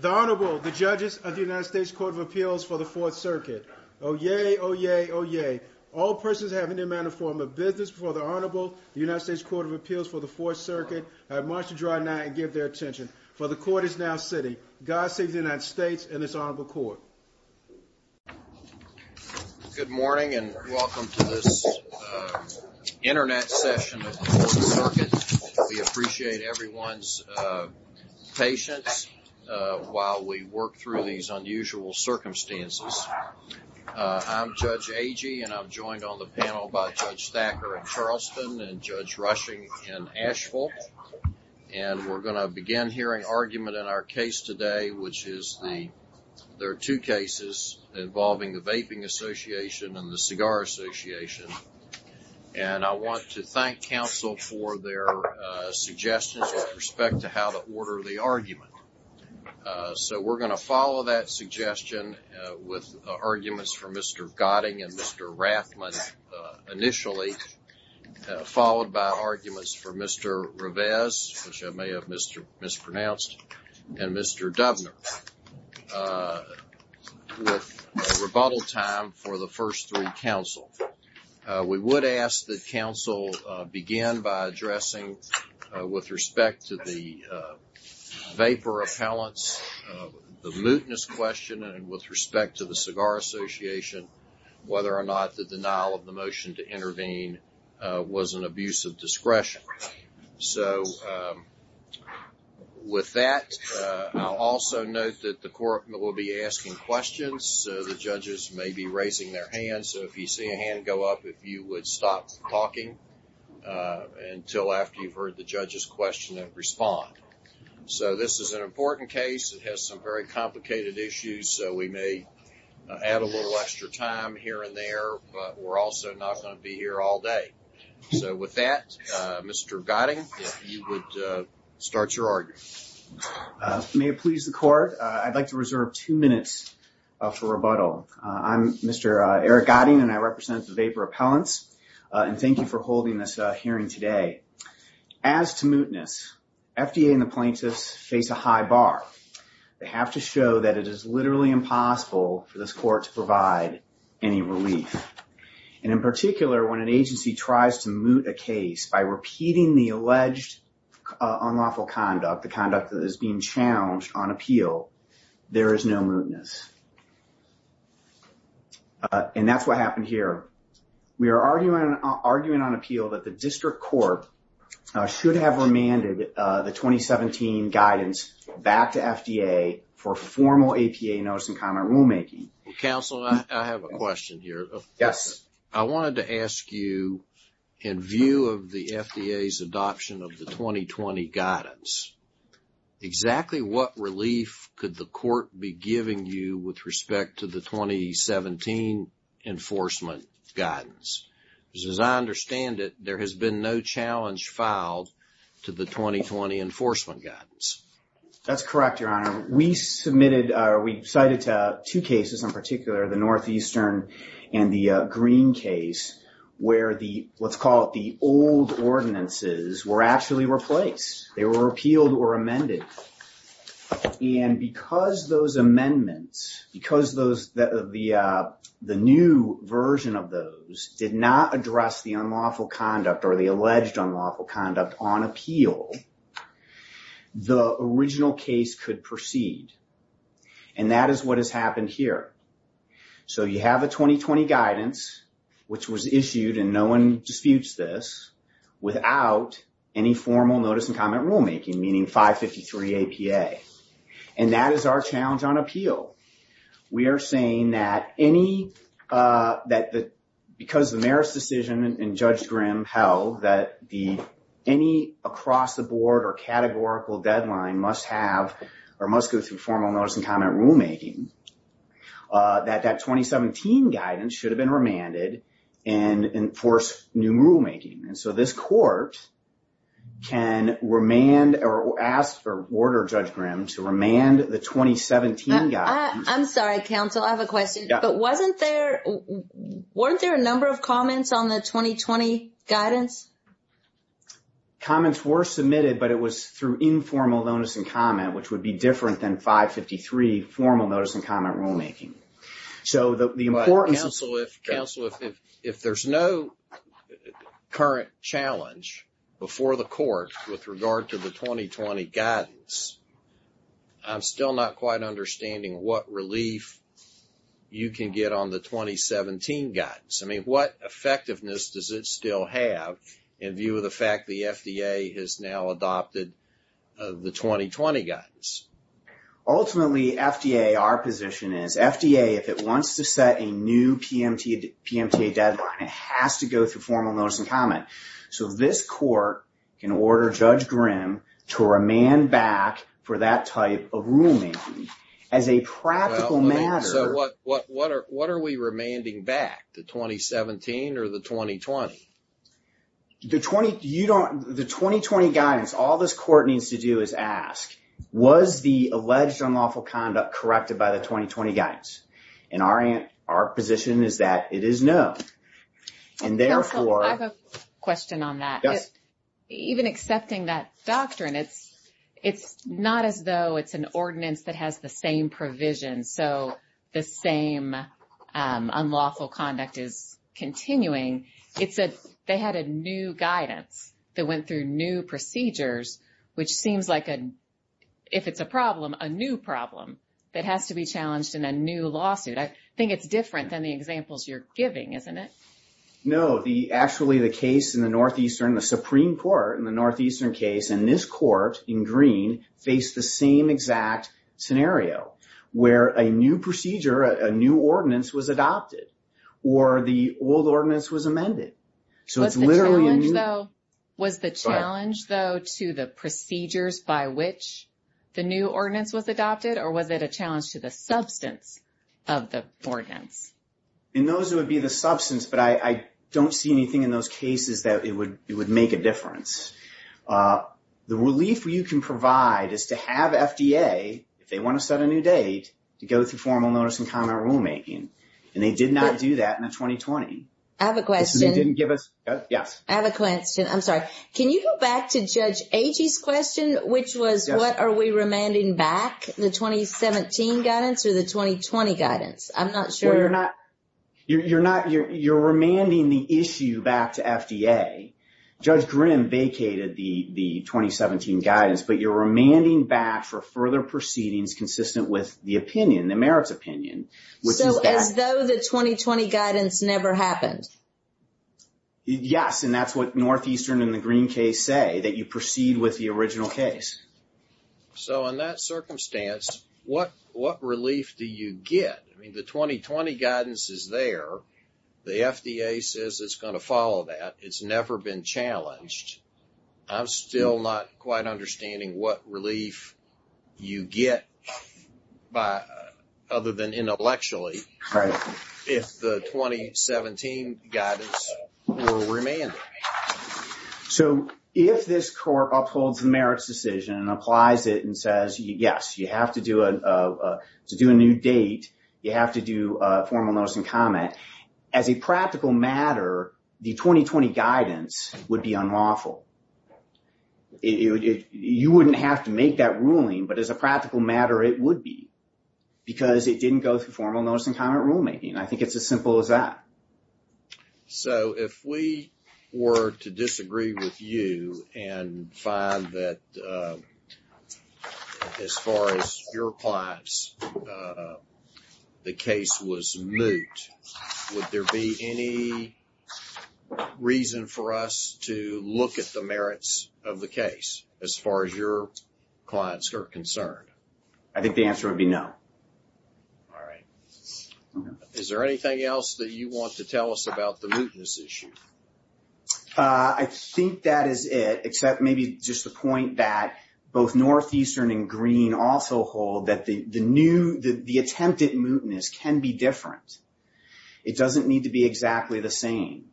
The Honorable, the Judges of the United States Court of Appeals for the Fourth Circuit. Oh yay, oh yay, oh yay. All persons having the amount of form of business before the Honorable, the United States Court of Appeals for the Fourth Circuit, have marched to dry night and give their attention. For the Court is now sitting. God save the United States and this Honorable Court. Good morning and welcome to this internet session of the Fourth Circuit. We appreciate everyone's patience while we work through these unusual circumstances. I'm Judge Agee and I'm joined on the panel by Judge Thacker in Charleston and Judge Rushing in Asheville. And we're going to begin hearing argument in our case today, which is the, there are two cases involving the Vaping Association and the Cigar Association. And I want to thank counsel for their suggestions with respect to how to order the argument. So we're going to follow that suggestion with arguments for Mr. Gotting and Mr. Rathman initially, followed by arguments for Mr. Rivez, which I may have mispronounced, and Mr. Dubner. With rebuttal time for the first three counsel. We would ask that counsel begin by addressing with respect to the vapor appellants, the mootness question and with respect to the Cigar Association, whether or not the denial of the motion to intervene was an abuse of discretion. So with that, I'll also note that the court will be asking questions. The judges may be raising their hands, so if you see a hand go up, if you would stop talking until after you've heard the judge's question and respond. So this is an important case. It has some very complicated issues. So we may add a little extra time here and there, but we're also not going to be here all day. So with that, Mr. Gotting, if you would start your argument. May it please the court, I'd like to reserve two minutes for rebuttal. I'm Mr. Eric Gotting and I represent the vapor appellants. And thank you for holding this hearing today. As to mootness, FDA and the plaintiffs face a high bar. They have to show that it is literally impossible for this court to provide any relief. And in particular, when an agency tries to moot a case by repeating the alleged unlawful conduct, the conduct that is being challenged on appeal, there is no mootness. And that's what happened here. We are arguing on appeal that the district court should have remanded the 2017 guidance back to FDA for formal APA notice and comment rulemaking. Counsel, I have a question here. Yes. I wanted to ask you, in view of the FDA's adoption of the 2020 guidance, exactly what relief could the court be giving you with respect to the 2017 enforcement guidance? Because as I understand it, there has been no challenge filed to the 2020 enforcement guidance. That's correct, Your Honor. We submitted, or we cited two cases in particular, the Northeastern and the Green case, where the, let's call it the old ordinances, were actually replaced. They were repealed or amended. And because those amendments, because the new version of those did not address the unlawful conduct or the alleged unlawful conduct on appeal, the original case could proceed. And that is what has happened here. So you have a 2020 guidance, which was issued, and no one disputes this, without any formal notice and comment rulemaking, meaning 553 APA. And that is our challenge on appeal. We are saying that because the merits decision in Judge Grimm held that any across-the-board or categorical deadline must have or must go through formal notice and comment rulemaking, that that 2017 guidance should have been remanded and enforce new rulemaking. And so this court can remand or ask for order Judge Grimm to remand the 2017 guidance. I'm sorry, counsel, I have a question. But wasn't there, weren't there a number of comments on the 2020 guidance? Comments were submitted, but it was through informal notice and comment, which would be different than 553 formal notice and comment rulemaking. But counsel, if there's no current challenge before the court with regard to the 2020 guidance, I'm still not quite understanding what relief you can get on the 2017 guidance. I mean, what effectiveness does it still have in view of the fact the FDA has now adopted the 2020 guidance? Ultimately, FDA, our position is FDA, if it wants to set a new PMTA deadline, it has to go through formal notice and comment. So this court can order Judge Grimm to remand back for that type of rulemaking. As a practical matter. So what are we remanding back, the 2017 or the 2020? The 2020 guidance, all this court needs to do is ask, was the alleged unlawful conduct corrected by the 2020 guidance? And our position is that it is no. And therefore. I have a question on that. Even accepting that doctrine, it's not as though it's an ordinance that has the same provision. So the same unlawful conduct is continuing. It's that they had a new guidance that went through new procedures, which seems like a, if it's a problem, a new problem that has to be challenged in a new lawsuit. I think it's different than the examples you're giving, isn't it? No, the actually the case in the Northeastern, the Supreme Court in the Northeastern case and this court in green face the same exact scenario where a new procedure, a new ordinance was adopted. Or the old ordinance was amended. So it's literally. Was the challenge though to the procedures by which the new ordinance was adopted? Or was it a challenge to the substance of the ordinance? And those would be the substance. But I don't see anything in those cases that it would it would make a difference. The relief you can provide is to have FDA if they want to set a new date to go through formal notice and comment rulemaking. And they did not do that in the 2020. I have a question. Didn't give us. Yes. I have a question. I'm sorry. Can you go back to Judge Agee's question, which was what are we remanding back? The 2017 guidance or the 2020 guidance? I'm not sure you're not. You're not. You're you're remanding the issue back to FDA. Judge Grimm vacated the the 2017 guidance. But you're remanding back for further proceedings consistent with the opinion, the merits opinion. So as though the 2020 guidance never happened. Yes. And that's what Northeastern in the green case say that you proceed with the original case. So in that circumstance, what what relief do you get? I mean, the 2020 guidance is there. The FDA says it's going to follow that. It's never been challenged. I'm still not quite understanding what relief you get by other than intellectually. Right. If the 2017 guidance will remain. So if this court upholds the merits decision and applies it and says, yes, you have to do a to do a new date. You have to do a formal notice and comment as a practical matter. The 2020 guidance would be unlawful. You wouldn't have to make that ruling. But as a practical matter, it would be because it didn't go through formal notice and comment rulemaking. And I think it's as simple as that. So if we were to disagree with you and find that as far as your clients, the case was moot. Would there be any reason for us to look at the merits of the case as far as your clients are concerned? I think the answer would be no. All right. Is there anything else that you want to tell us about the mootness issue? I think that is it. Except maybe just the point that both Northeastern and Green also hold that the attempted mootness can be different. It doesn't need to be exactly the same.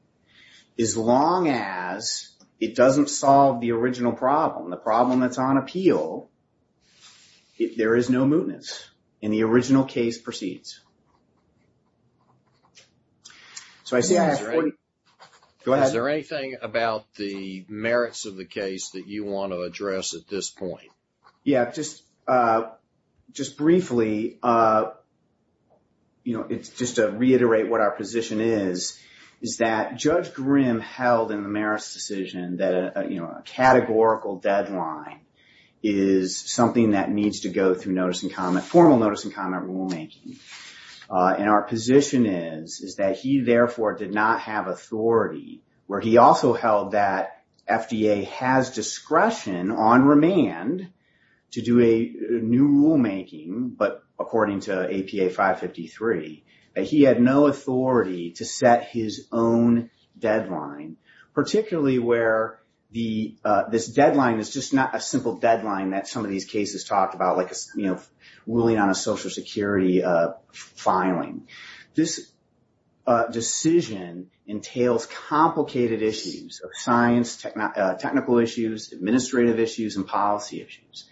As long as it doesn't solve the original problem, the problem that's on appeal. There is no mootness. And the original case proceeds. Is there anything about the merits of the case that you want to address at this point? Just briefly, just to reiterate what our position is, is that Judge Grimm held in the merits decision that a categorical deadline is something that needs to go through formal notice and comment rulemaking. And our position is that he therefore did not have authority, where he also held that FDA has discretion on remand to do a new rulemaking. But according to APA 553, he had no authority to set his own deadline, particularly where this deadline is just not a simple deadline that some of these cases talked about, like ruling on a Social Security filing. This decision entails complicated issues of science, technical issues, administrative issues, and policy issues.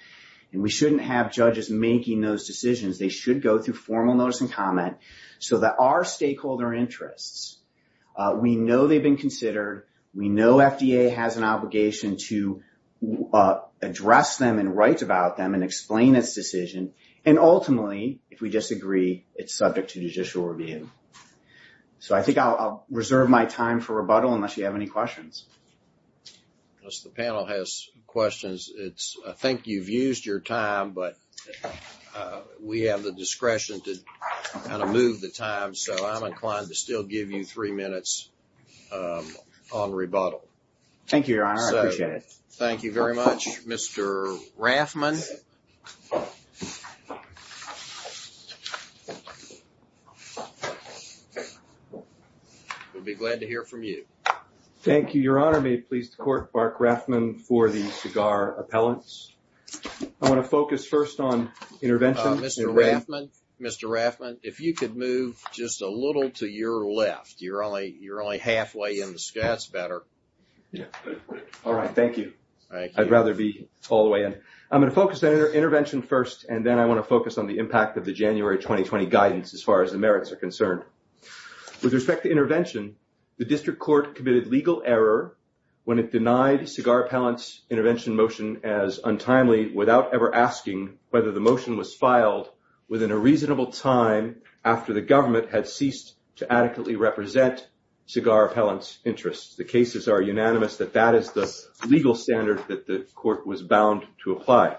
And we shouldn't have judges making those decisions. They should go through formal notice and comment so that our stakeholder interests, we know they've been considered, we know FDA has an obligation to address them and write about them and explain its decision. And ultimately, if we disagree, it's subject to judicial review. So I think I'll reserve my time for rebuttal unless you have any questions. Unless the panel has questions. I think you've used your time, but we have the discretion to kind of move the time. So I'm inclined to still give you three minutes on rebuttal. Thank you, Your Honor. I appreciate it. Thank you very much, Mr. Raffman. We'll be glad to hear from you. Thank you, Your Honor. May it please the Court, Mark Raffman for the CIGAR appellants. I want to focus first on intervention. Mr. Raffman, Mr. Raffman, if you could move just a little to your left. You're only halfway in the sketch. That's better. All right. Thank you. I'd rather be all the way in. I'm going to focus on intervention first, and then I want to focus on the impact of the January 2020 guidance as far as the merits are concerned. With respect to intervention, the District Court committed legal error when it denied CIGAR appellants' intervention motion as untimely without ever asking whether the motion was filed within a reasonable time after the government had ceased to adequately represent CIGAR appellants' interests. The cases are unanimous that that is the legal standard that the Court was bound to apply.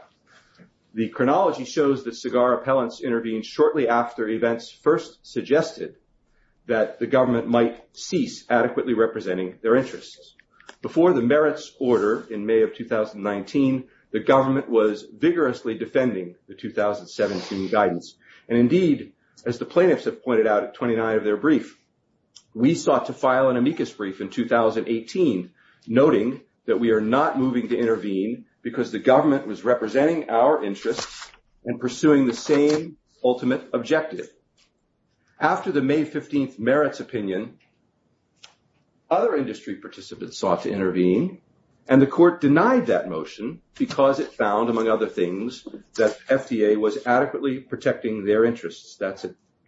The chronology shows that CIGAR appellants intervened shortly after events first suggested that the government might cease adequately representing their interests. Before the merits order in May of 2019, the government was vigorously defending the 2017 guidance. And indeed, as the plaintiffs have pointed out at 29 of their brief, we sought to file an amicus brief in 2018, noting that we are not moving to intervene because the government was representing our interests and pursuing the same ultimate objective. After the May 15th merits opinion, other industry participants sought to intervene, and the Court denied that motion because it found, among other things, that FDA was adequately protecting their interests. That's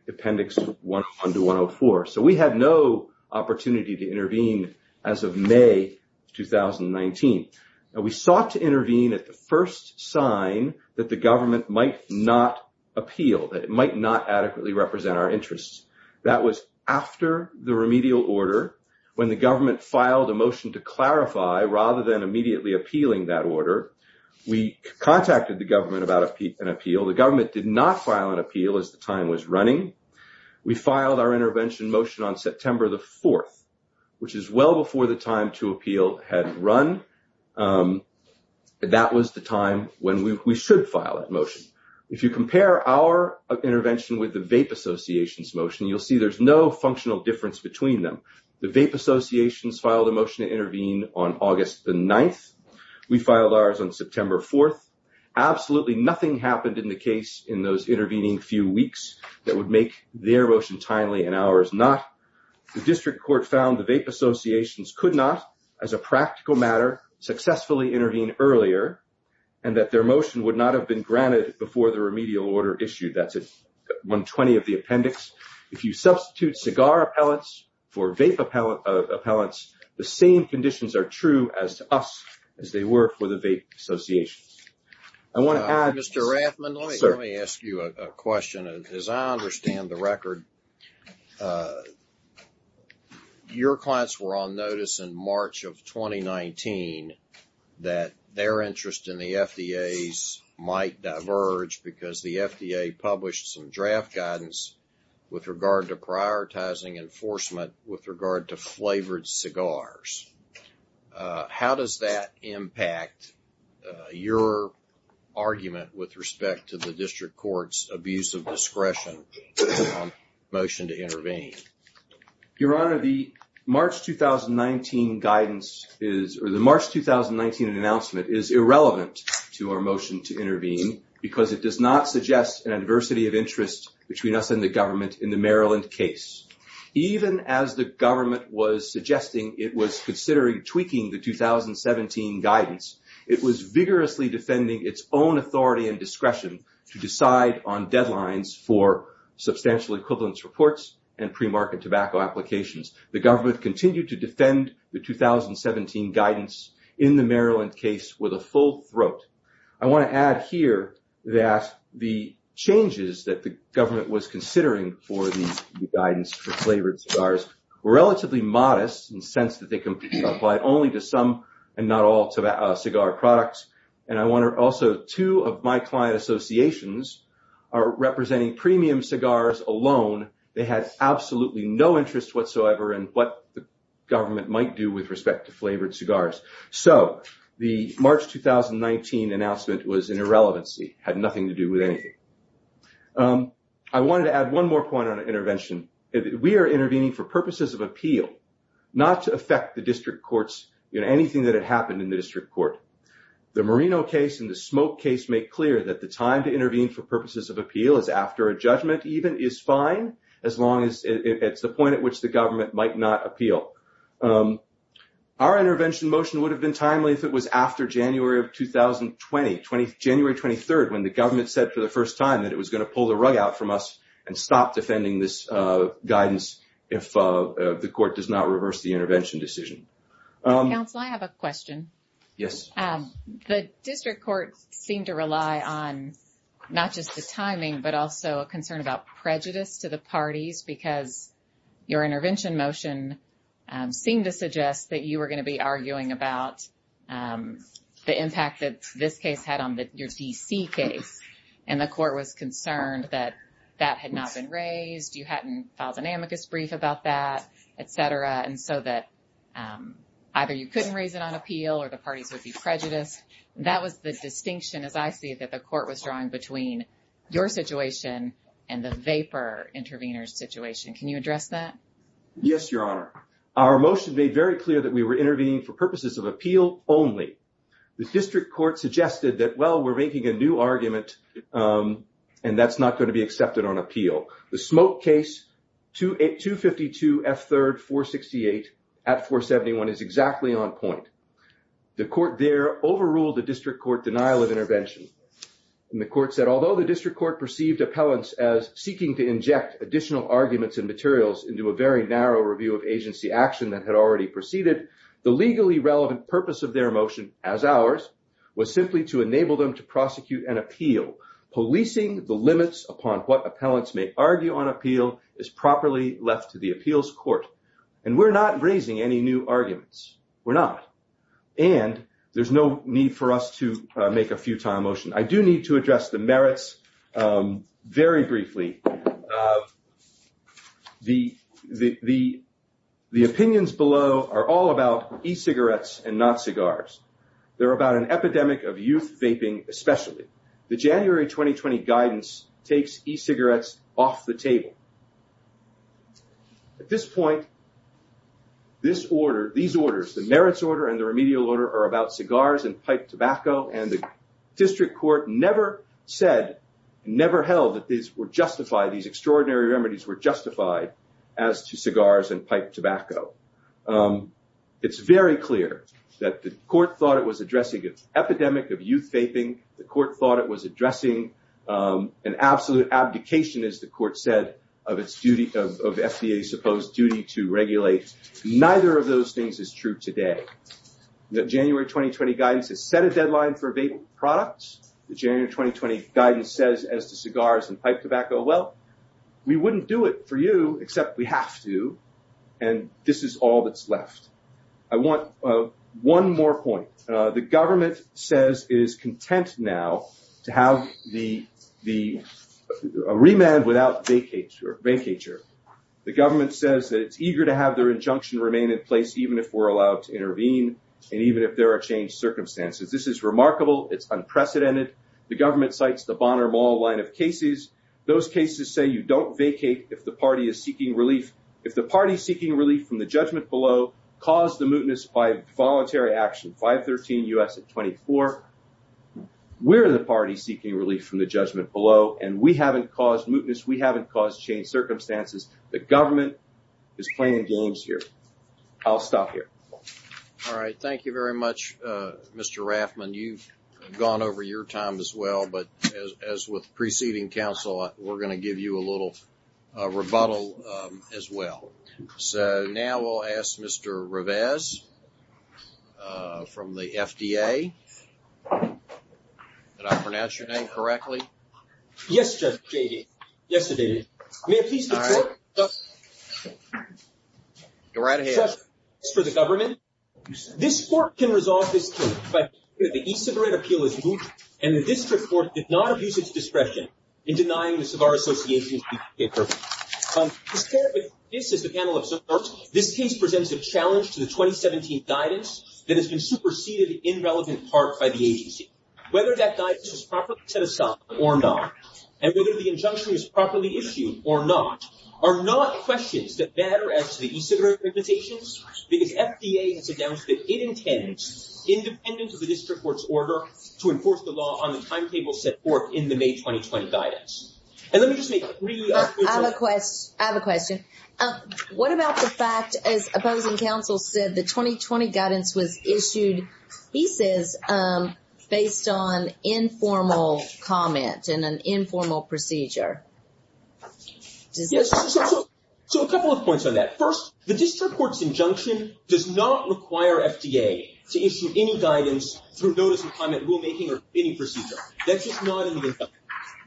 Appendix 101 to 104. So we had no opportunity to intervene as of May 2019. We sought to intervene at the first sign that the government might not appeal, that it might not adequately represent our interests. That was after the remedial order, when the government filed a motion to clarify rather than immediately appealing that order. We contacted the government about an appeal. The government did not file an appeal as the time was running. We filed our intervention motion on September the 4th, which is well before the time to appeal had run. That was the time when we should file that motion. If you compare our intervention with the VAPE Association's motion, you'll see there's no functional difference between them. The VAPE Association's filed a motion to intervene on August the 9th. We filed ours on September 4th. Absolutely nothing happened in the case in those intervening few weeks that would make their motion timely and ours not. The District Court found the VAPE Association's could not, as a practical matter, successfully intervene earlier, and that their motion would not have been granted before the remedial order issued. That's at 120 of the appendix. If you substitute cigar appellants for VAPE appellants, the same conditions are true as to us as they were for the VAPE Association. I want to add... Mr. Rathman, let me ask you a question. As I understand the record, your clients were on notice in March of 2019 that their interest in the FDA's might diverge because the FDA published some draft guidance with regard to prioritizing enforcement with regard to flavored cigars. How does that impact your argument with respect to the District Court's abuse of discretion motion to intervene? Your Honor, the March 2019 guidance is... The March 2019 announcement is irrelevant to our motion to intervene because it does not suggest an adversity of interest between us and the government in the Maryland case. Even as the government was suggesting it was considering tweaking the 2017 guidance, it was vigorously defending its own authority and discretion to decide on deadlines for substantial equivalence reports and pre-market tobacco applications. The government continued to defend the 2017 guidance in the Maryland case with a full throat. I want to add here that the changes that the government was considering for the guidance for flavored cigars were relatively modest in the sense that they can be applied only to some and not all cigar products. And I want to also... Two of my client associations are representing premium cigars alone. They had absolutely no interest whatsoever in what the government might do with respect to flavored cigars. So the March 2019 announcement was an irrelevancy. It had nothing to do with anything. I wanted to add one more point on intervention. We are intervening for purposes of appeal, not to affect the District Court's... Anything that had happened in the District Court. The Marino case and the Smoke case make clear that the time to intervene for purposes of appeal is after a judgment even is fine as long as it's the point at which the government might not appeal. Our intervention motion would have been timely if it was after January of 2020, January 23rd, when the government said for the first time that it was going to pull the rug out from us and stop defending this guidance if the court does not reverse the intervention decision. Counsel, I have a question. Yes. The District Court seemed to rely on not just the timing but also a concern about prejudice to the parties because your intervention motion seemed to suggest that you were going to be arguing about the impact that this case had on your D.C. case, and the court was concerned that that had not been raised, you hadn't filed an amicus brief about that, et cetera, and so that either you couldn't raise it on appeal or the parties would be prejudiced. That was the distinction, as I see it, that the court was drawing between your situation and the vapor intervener's situation. Can you address that? Yes, Your Honor. Our motion made very clear that we were intervening for purposes of appeal only. The District Court suggested that, well, we're making a new argument and that's not going to be accepted on appeal. The smoke case, 252 F. 3rd 468 at 471, is exactly on point. The court there overruled the District Court denial of intervention, and the court said, although the District Court perceived appellants as seeking to inject additional arguments and materials into a very narrow review of agency action that had already proceeded, the legally relevant purpose of their motion, as ours, was simply to enable them to prosecute an appeal, policing the limits upon what appellants may argue on appeal is properly left to the appeals court. And we're not raising any new arguments. We're not. And there's no need for us to make a futile motion. I do need to address the merits very briefly. The opinions below are all about e-cigarettes and not cigars. They're about an epidemic of youth vaping especially. The January 2020 guidance takes e-cigarettes off the table. At this point, this order, these orders, the merits order and the remedial order are about cigars and piped tobacco, and the District Court never said, never held that these were justified, these extraordinary remedies were justified as to cigars and piped tobacco. It's very clear that the court thought it was addressing an epidemic of youth vaping. The court thought it was addressing an absolute abdication, as the court said, of its duty, of FDA's supposed duty to regulate. Neither of those things is true today. The January 2020 guidance has set a deadline for vaping products. The January 2020 guidance says as to cigars and piped tobacco, well, we wouldn't do it for you except we have to, and this is all that's left. I want one more point. The government says it is content now to have the remand without vacature. The government says that it's eager to have their injunction remain in place even if we're allowed to intervene and even if there are changed circumstances. This is remarkable. It's unprecedented. The government cites the Bonner Mall line of cases. Those cases say you don't vacate if the party is seeking relief. If the party is seeking relief from the judgment below, cause the mootness by voluntary action, 513 U.S. 24. We're the party seeking relief from the judgment below, and we haven't caused mootness. We haven't caused changed circumstances. The government is playing games here. I'll stop here. All right. Thank you very much, Mr. Raffman. You've gone over your time as well, but as with preceding counsel, we're going to give you a little rebuttal as well. So now we'll ask Mr. Revesz from the FDA. Did I pronounce your name correctly? Yes, Judge J.D. Yes, it did. May I please report? Go right ahead. For the government, this court can resolve this case by saying that the e-cigarette appeal is moot and the district court did not abuse its discretion in denying the Savar Association's e-cigarette purchase. As the panel observed, this case presents a challenge to the 2017 guidance that has been superseded in relevant part by the agency. Whether that guidance is properly set aside or not, and whether the injunction is properly issued or not, are not questions that matter as to the e-cigarette recommendations, because FDA has announced that it intends, independent of the district court's order, to enforce the law on the timetable set forth in the May 2020 guidance. I have a question. What about the fact, as opposing counsel said, the 2020 guidance was issued, he says, based on informal comment and an informal procedure? Yes, so a couple of points on that. First, the district court's injunction does not require FDA to issue any guidance through notice of comment, rulemaking, or bidding procedure. That's just not in the injunction.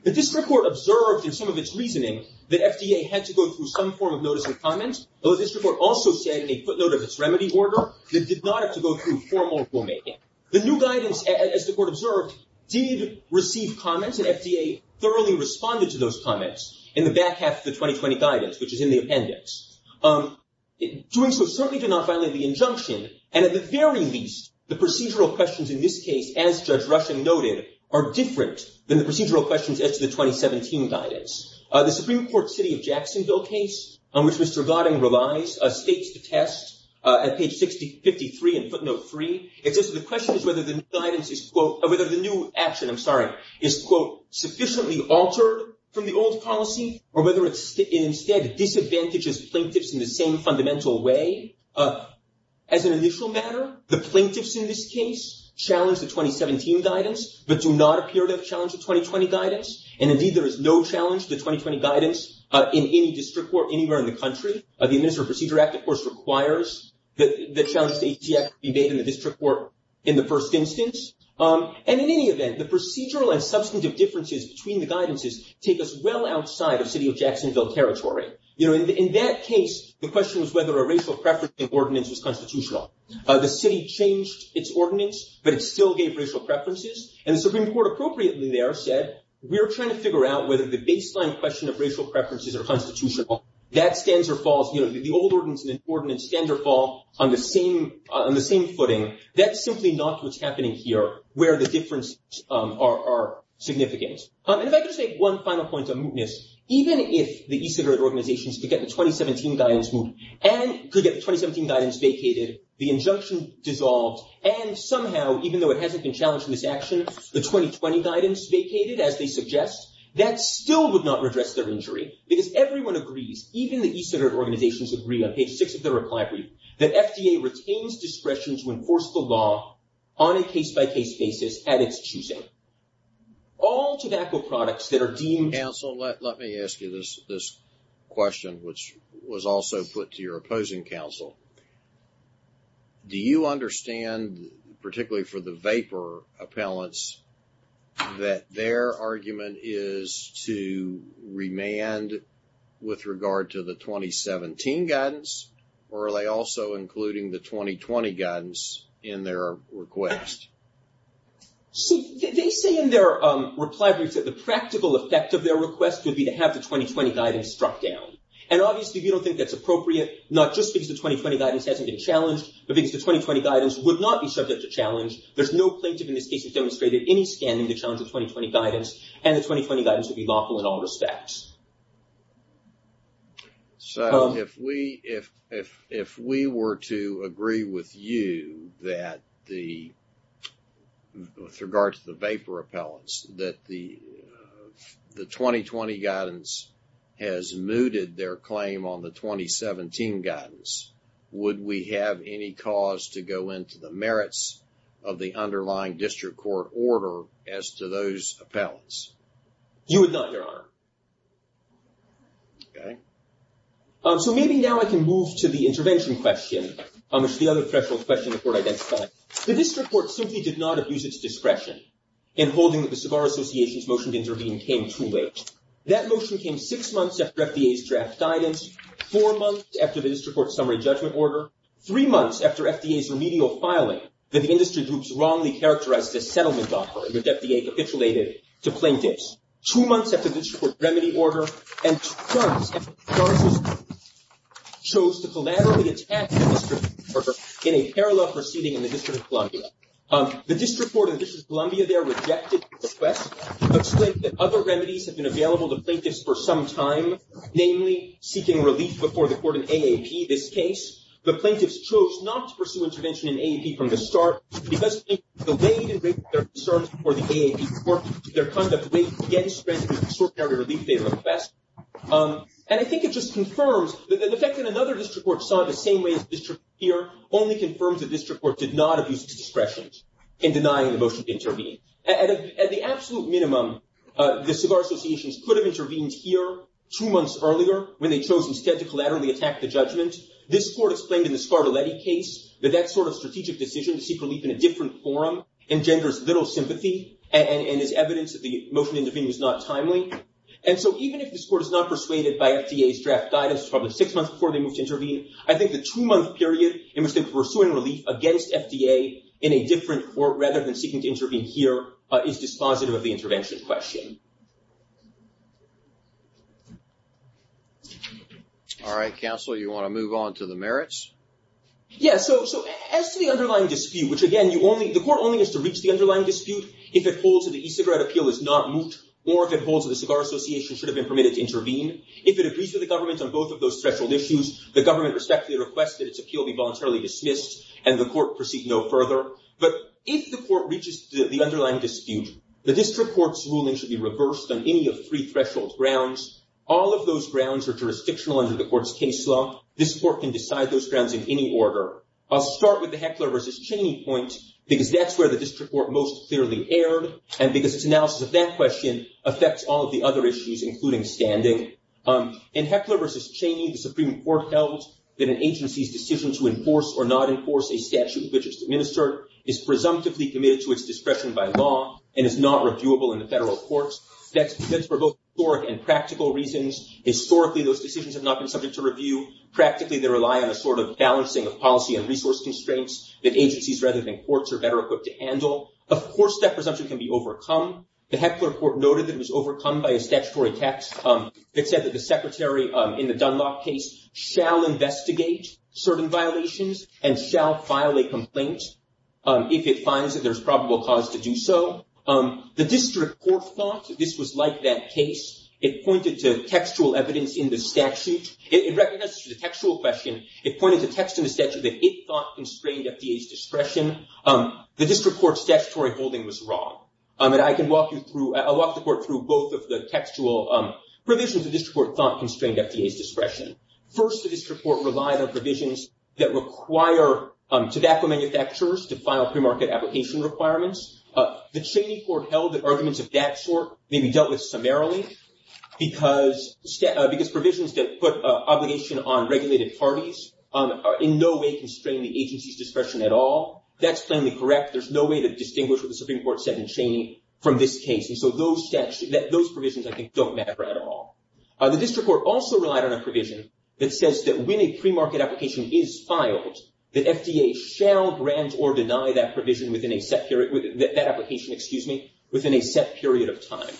The district court observed, in some of its reasoning, that FDA had to go through some form of notice of comment, although the district court also said in a footnote of its remedy order that it did not have to go through formal rulemaking. The new guidance, as the court observed, did receive comments, and FDA thoroughly responded to those comments in the back half of the 2020 guidance, which is in the appendix. Doing so certainly did not violate the injunction, and at the very least, the procedural questions in this case, as Judge Rushing noted, are different than the procedural questions as to the 2017 guidance. The Supreme Court City of Jacksonville case, on which Mr. Gotting relies, states the test at page 53 in footnote 3. It says that the question is whether the new action is, quote, sufficiently altered from the old policy, or whether it instead disadvantages plaintiffs in the same fundamental way. As an initial matter, the plaintiffs in this case challenge the 2017 guidance, but do not appear to have challenged the 2020 guidance, and indeed, there is no challenge to the 2020 guidance in any district court anywhere in the country. The Administrative Procedure Act, of course, requires that challenges to HDF be made in the district court in the first instance. And in any event, the procedural and substantive differences between the guidances take us well outside of City of Jacksonville territory. You know, in that case, the question was whether a racial preference ordinance was constitutional. The city changed its ordinance, but it still gave racial preferences, and the Supreme Court appropriately there said, we're trying to figure out whether the baseline question of racial preferences are constitutional. That stands or falls, you know, the old ordinance and the new ordinance stand or fall on the same footing. That's simply not what's happening here, where the differences are significant. And if I could just make one final point on mootness, even if the e-cigarette organizations could get the 2017 guidance moot, and could get the 2017 guidance vacated, the injunction dissolved, and somehow, even though it hasn't been challenged in this action, the 2020 guidance vacated, as they suggest, that still would not redress their injury, because everyone agrees, even the e-cigarette organizations agree on page 6 of their reply brief, that FDA retains discretion to enforce the law on a case-by-case basis at its choosing. All tobacco products that are deemed- Counsel, let me ask you this question, which was also put to your opposing counsel. Do you understand, particularly for the vapor appellants, that their argument is to remand with regard to the 2017 guidance, or are they also including the 2020 guidance in their request? See, they say in their reply brief that the practical effect of their request would be to have the 2020 guidance struck down. And obviously, we don't think that's appropriate, not just because the 2020 guidance hasn't been challenged, but because the 2020 guidance would not be subject to challenge. There's no plaintiff in this case who's demonstrated any standing to challenge the 2020 guidance, and the 2020 guidance would be lawful in all respects. So, if we were to agree with you that the, with regard to the vapor appellants, that the 2020 guidance has mooted their claim on the 2017 guidance, would we have any cause to go into the merits of the underlying district court order as to those appellants? You would not, Your Honor. Okay. So, maybe now I can move to the intervention question, which is the other threshold question the court identified. The district court simply did not abuse its discretion in holding that the Savar Association's motion to intervene came too late. That motion came six months after FDA's draft guidance, four months after the district court's summary judgment order, three months after FDA's remedial filing that the industry groups wrongly characterized this settlement offer, that the FDA capitulated to plaintiffs, two months after the district court's remedy order, and two months after Congress chose to collaboratively attack the district court order in a parallel proceeding in the District of Columbia. The district court in the District of Columbia there rejected the request, explained that other remedies have been available to plaintiffs for some time, namely seeking relief before the court in AAP this case. The plaintiffs chose not to pursue intervention in AAP from the start because plaintiffs were delayed in raising their concerns before the AAP court due to their conduct way against the extraordinary relief they had requested. And I think it just confirms, the fact that another district court saw it the same way as the district court here only confirms that the district court did not abuse its discretion in denying the motion to intervene. At the absolute minimum, the Savar Association's could have intervened here two months earlier when they chose instead to collaterally attack the judgment. This court explained in the Scarlatti case that that sort of strategic decision to seek relief in a different forum engenders little sympathy and is evidence that the motion to intervene was not timely. And so even if this court is not persuaded by FDA's draft guidance probably six months before they moved to intervene, I think the two-month period in which they were pursuing relief against FDA in a different court rather than seeking to intervene here is dispositive of the intervention question. All right, counsel, you want to move on to the merits? Yeah, so as to the underlying dispute, which again, the court only has to reach the underlying dispute if it holds that the e-cigarette appeal is not moot or if it holds that the Cigar Association should have been permitted to intervene. If it agrees with the government on both of those threshold issues, the government respectfully requests that its appeal be voluntarily dismissed and the court proceed no further. But if the court reaches the underlying dispute, the district court's ruling should be reversed on any of three threshold grounds. All of those grounds are jurisdictional under the court's case law. This court can decide those grounds in any order. I'll start with the Heckler v. Cheney point because that's where the district court most clearly erred and because its analysis of that question affects all of the other issues, including standing. In Heckler v. Cheney, the Supreme Court held that an agency's decision to enforce or not enforce a statute which is administered is presumptively committed to its discretion by law and is not reviewable in the federal courts. That's for both historic and practical reasons. Historically, those decisions have not been subject to review. Practically, they rely on a sort of balancing of policy and resource constraints that agencies rather than courts are better equipped to handle. Of course, that presumption can be overcome. The Heckler court noted that it was overcome by a statutory text that said that the secretary in the Dunlop case shall investigate certain violations and shall file a complaint if it finds that there's probable cause to do so. The district court thought that this was like that case. It pointed to textual evidence in the statute. It recognized this was a textual question. It pointed to text in the statute that it thought constrained FDA's discretion. The district court's statutory holding was wrong. I'll walk the court through both of the textual provisions the district court thought constrained FDA's discretion. First, the district court relied on provisions that require tobacco manufacturers to file premarket application requirements. The Cheney court held that arguments of that sort may be dealt with summarily because provisions that put obligation on regulated parties in no way constrain the agency's discretion at all. That's plainly correct. There's no way to distinguish what the Supreme Court said in Cheney from this case. Those provisions, I think, don't matter at all. The district court also relied on a provision that says that when a premarket application is filed, that FDA shall grant or deny that application within a set period of time.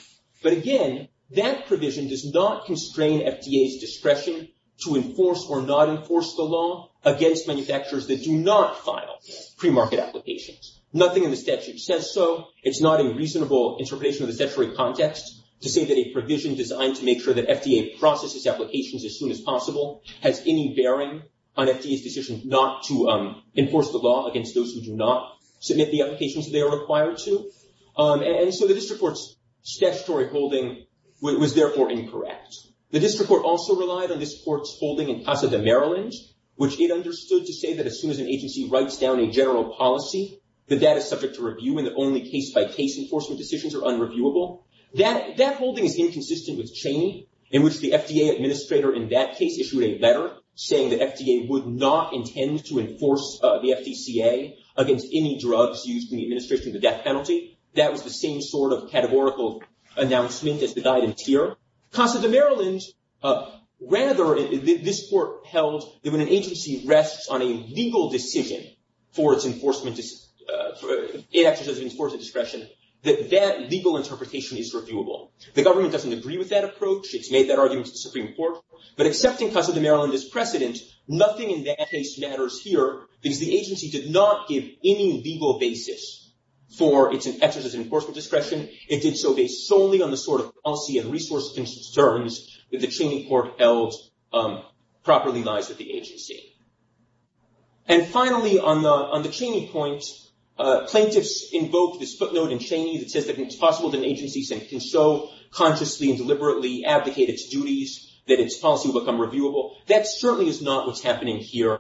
But again, that provision does not constrain FDA's discretion to enforce or not enforce the law against manufacturers that do not file premarket applications. Nothing in the statute says so. It's not a reasonable interpretation of the statutory context to say that a provision designed to make sure that FDA processes applications as soon as possible has any bearing on FDA's decision not to enforce the law against those who do not submit the applications they are required to. And so the district court's statutory holding was therefore incorrect. The district court also relied on this court's holding in Casa de Maryland, which it understood to say that as soon as an agency writes down a general policy, that that is subject to review and that only case-by-case enforcement decisions are unreviewable. That holding is inconsistent with Cheney, in which the FDA administrator in that case issued a letter saying that FDA would not intend to enforce the FDCA against any drugs used in the administration of the death penalty. That was the same sort of categorical announcement as the guidance here. Casa de Maryland rather, this court held, that when an agency rests on a legal decision for its enforcement discretion, that that legal interpretation is reviewable. The government doesn't agree with that approach. It's made that argument to the Supreme Court. But accepting Casa de Maryland as precedent, nothing in that case matters here because the agency did not give any legal basis for its emphasis in enforcement discretion. It did so based solely on the sort of policy and resource concerns that the Cheney court held properly lies with the agency. And finally, on the Cheney point, plaintiffs invoked this footnote in Cheney that says that it's possible that an agency can so consciously and deliberately abdicate its duties that its policy will become reviewable. That certainly is not what's happening here.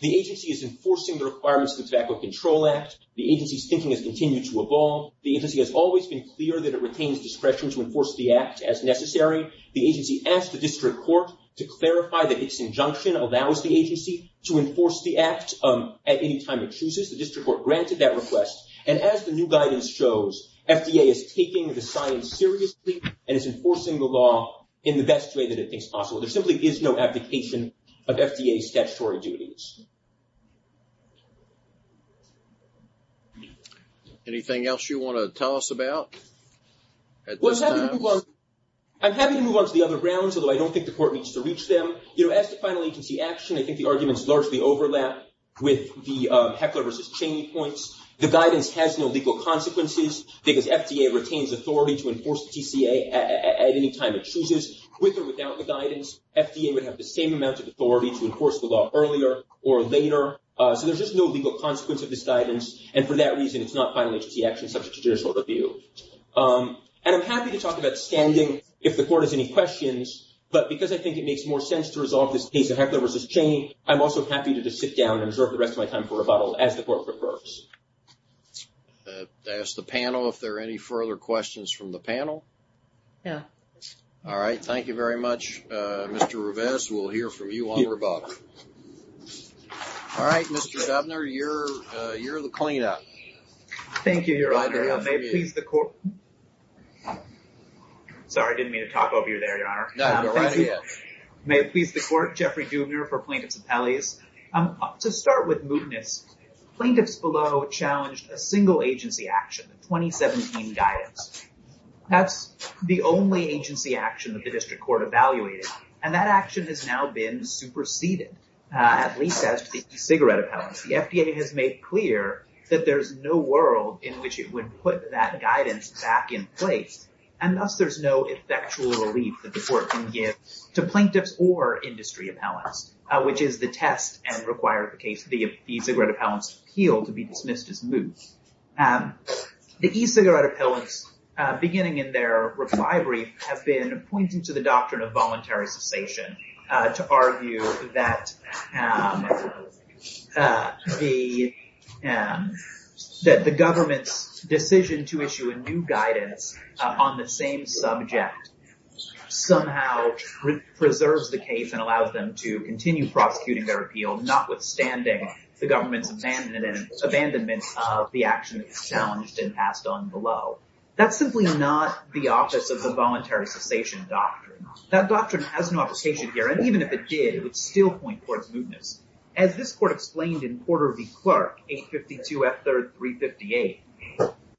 The agency is enforcing the requirements of the Tobacco Control Act. The agency's thinking has continued to evolve. The agency has always been clear that it retains discretion to enforce the act as necessary. The agency asked the district court to clarify that its injunction allows the agency to enforce the act at any time it chooses. The district court granted that request. And as the new guidance shows, FDA is taking the science seriously and is enforcing the law in the best way that it thinks possible. There simply is no abdication of FDA's statutory duties. Anything else you want to tell us about at this time? I'm happy to move on to the other grounds, although I don't think the court needs to reach them. As to final agency action, I think the arguments largely overlap with the Heckler v. Cheney points. The guidance has no legal consequences because FDA retains authority to enforce the TCA at any time it chooses. With or without the guidance, FDA would have the same amount of authority to enforce the law earlier or later. So there's just no legal consequence of this guidance, and for that reason it's not final agency action subject to judicial review. And I'm happy to talk about standing if the court has any questions, but because I think it makes more sense to resolve this case of Heckler v. Cheney, I'm also happy to just sit down and observe the rest of my time for rebuttal, as the court prefers. I'll ask the panel if there are any further questions from the panel. No. All right. Thank you very much, Mr. Ruvez. We'll hear from you on rebuttal. All right, Mr. Dubner, you're the clean-up. Thank you, Your Honor. May it please the court. Sorry, I didn't mean to talk over you there, Your Honor. No, go right ahead. May it please the court. Jeffrey Dubner for Plaintiffs' Appellees. To start with mootness, Plaintiffs Below challenged a single agency action, the 2017 guidance. That's the only agency action that the district court evaluated, and that action has now been superseded, at least as to the cigarette appellants. The FDA has made clear that there's no world in which it would put that guidance back in place, and thus there's no effectual relief that the court can give to plaintiffs or industry appellants, which is the test, and required the cigarette appellants' appeal to be dismissed as moot. The e-cigarette appellants, beginning in their reply brief, have been pointing to the doctrine of voluntary cessation to argue that the government's decision to issue a new guidance on the same subject somehow preserves the case and allows them to continue prosecuting their appeal, notwithstanding the government's abandonment of the action that was challenged and passed on below. That's simply not the office of the voluntary cessation doctrine. That doctrine has no application here, and even if it did, it would still point towards mootness. As this court explained in Porter v. Clark, 852 F3rd 358,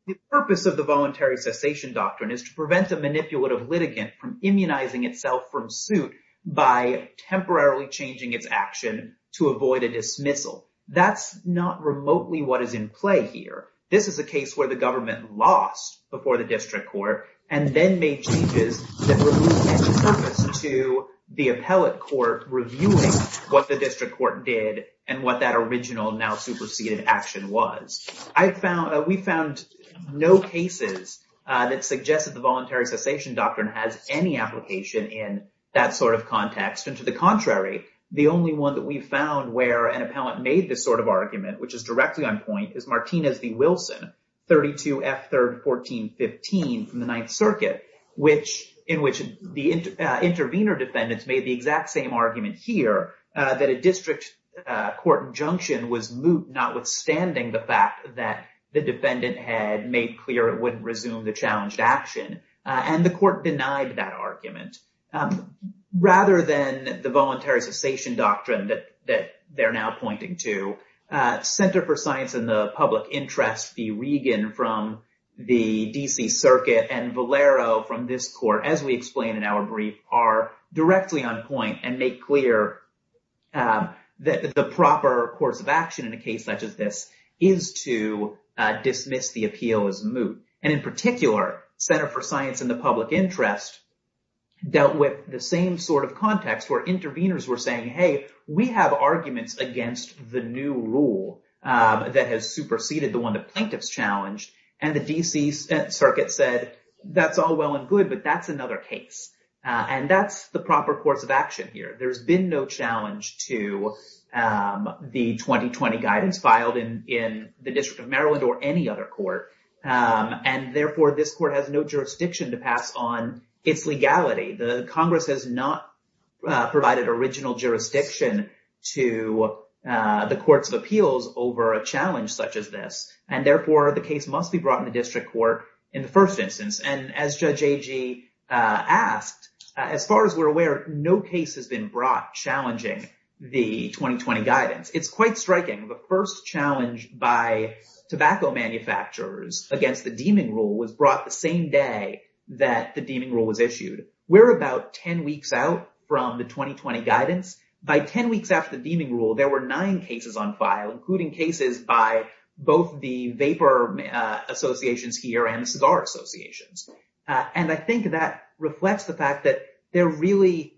the purpose of the voluntary cessation doctrine is to prevent the manipulative litigant from immunizing itself from suit by temporarily changing its action to avoid a dismissal. That's not remotely what is in play here. This is a case where the government lost before the district court and then made changes that were of no purpose to the appellate court reviewing what the district court did and what that original now superseded action was. We found no cases that suggested the voluntary cessation doctrine has any application in that sort of context, and to the contrary, the only one that we found where an appellate made this sort of argument, which is directly on point, is Martinez v. Wilson, 32 F3rd 1415, from the Ninth Circuit, in which the intervener defendants made the exact same argument here, that a district court injunction was moot, notwithstanding the fact that the defendant had made clear it wouldn't resume the challenged action, and the court denied that argument. Rather than the voluntary cessation doctrine that they're now pointing to, Center for Science in the Public Interest v. Regan from the D.C. Circuit and Valero from this court, as we explained in our brief, are directly on point and make clear that the proper course of action in a case such as this is to dismiss the appeal as moot, and in particular, Center for Science in the Public Interest dealt with the same sort of context where interveners were saying, hey, we have arguments against the new rule that has superseded the one the plaintiffs challenged, and the D.C. Circuit said, that's all well and good, but that's another case. And that's the proper course of action here. There's been no challenge to the 2020 guidance filed in the District of Maryland or any other court, and therefore, this court has no jurisdiction to pass on its legality. The Congress has not provided original jurisdiction to the courts of appeals over a challenge such as this, and therefore, the case must be brought in the district court in the first instance. And as Judge Agee asked, as far as we're aware, no case has been brought challenging the 2020 guidance. It's quite striking. The first challenge by tobacco manufacturers against the deeming rule was brought the same day that the deeming rule was issued. We're about 10 weeks out from the 2020 guidance. By 10 weeks after the deeming rule, there were nine cases on file, including cases by both the vapor associations here and the cigar associations. And I think that reflects the fact that there really—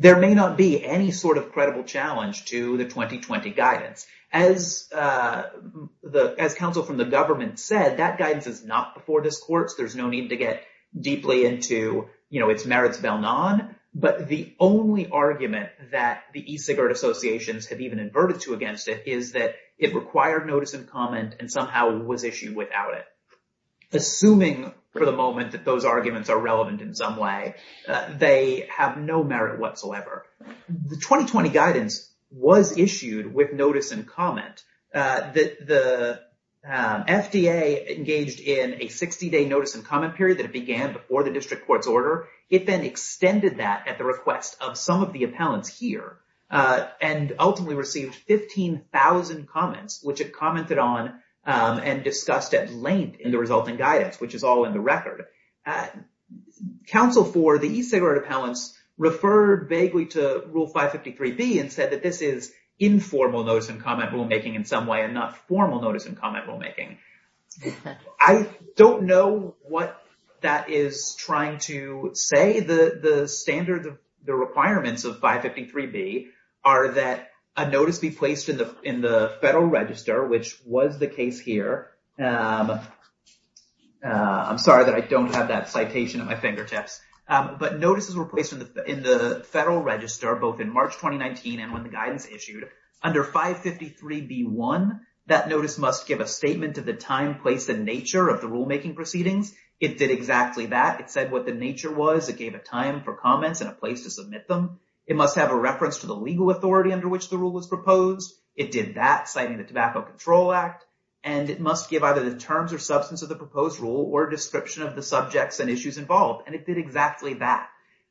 there may not be any sort of credible challenge to the 2020 guidance. As counsel from the government said, that guidance is not before this court, so there's no need to get deeply into, you know, its merits vel non. But the only argument that the e-cigarette associations have even inverted to against it is that it required notice and comment and somehow was issued without it. Assuming for the moment that those arguments are relevant in some way, they have no merit whatsoever. The 2020 guidance was issued with notice and comment. The FDA engaged in a 60-day notice and comment period that it began before the district court's order. It then extended that at the request of some of the appellants here and ultimately received 15,000 comments, which it commented on and discussed at length in the resulting guidance, which is all in the record. Counsel for the e-cigarette appellants referred vaguely to Rule 553B and said that this is informal notice and comment rulemaking in some way and not formal notice and comment rulemaking. I don't know what that is trying to say. The standard requirements of 553B are that a notice be placed in the federal register, which was the case here. I'm sorry that I don't have that citation at my fingertips. But notices were placed in the federal register both in March 2019 and when the guidance issued. Under 553B-1, that notice must give a statement of the time, place, and nature of the rulemaking proceedings. It did exactly that. It said what the nature was. It gave a time for comments and a place to submit them. It must have a reference to the legal authority under which the rule was proposed. It did that, citing the Tobacco Control Act. And it must give either the terms or substance of the proposed rule or a description of the subjects and issues involved. And it did exactly that.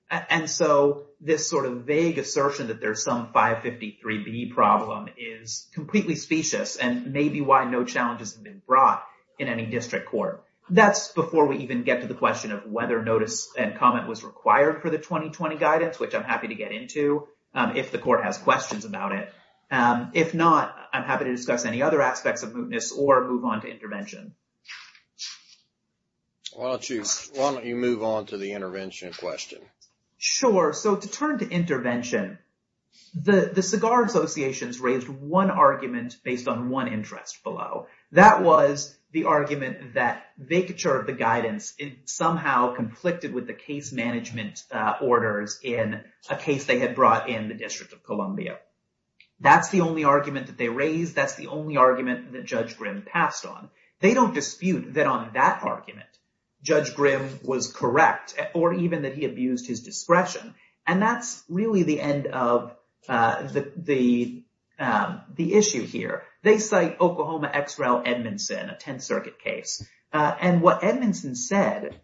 And so this sort of vague assertion that there's some 553B problem is completely specious and may be why no challenges have been brought in any district court. That's before we even get to the question of whether notice and comment was required for the 2020 guidance, which I'm happy to get into if the court has questions about it. If not, I'm happy to discuss any other aspects of mootness or move on to intervention. Why don't you move on to the intervention question? Sure. So to turn to intervention, the cigar associations raised one argument based on one interest below. That was the argument that vacature of the guidance somehow conflicted with the case management orders in a case they had brought in the District of Columbia. That's the only argument that they raised. That's the only argument that Judge Grimm passed on. They don't dispute that on that argument, Judge Grimm was correct or even that he abused his discretion. And that's really the end of the issue here. They cite Oklahoma ex-rel Edmondson, a Tenth Circuit case. And what Edmondson said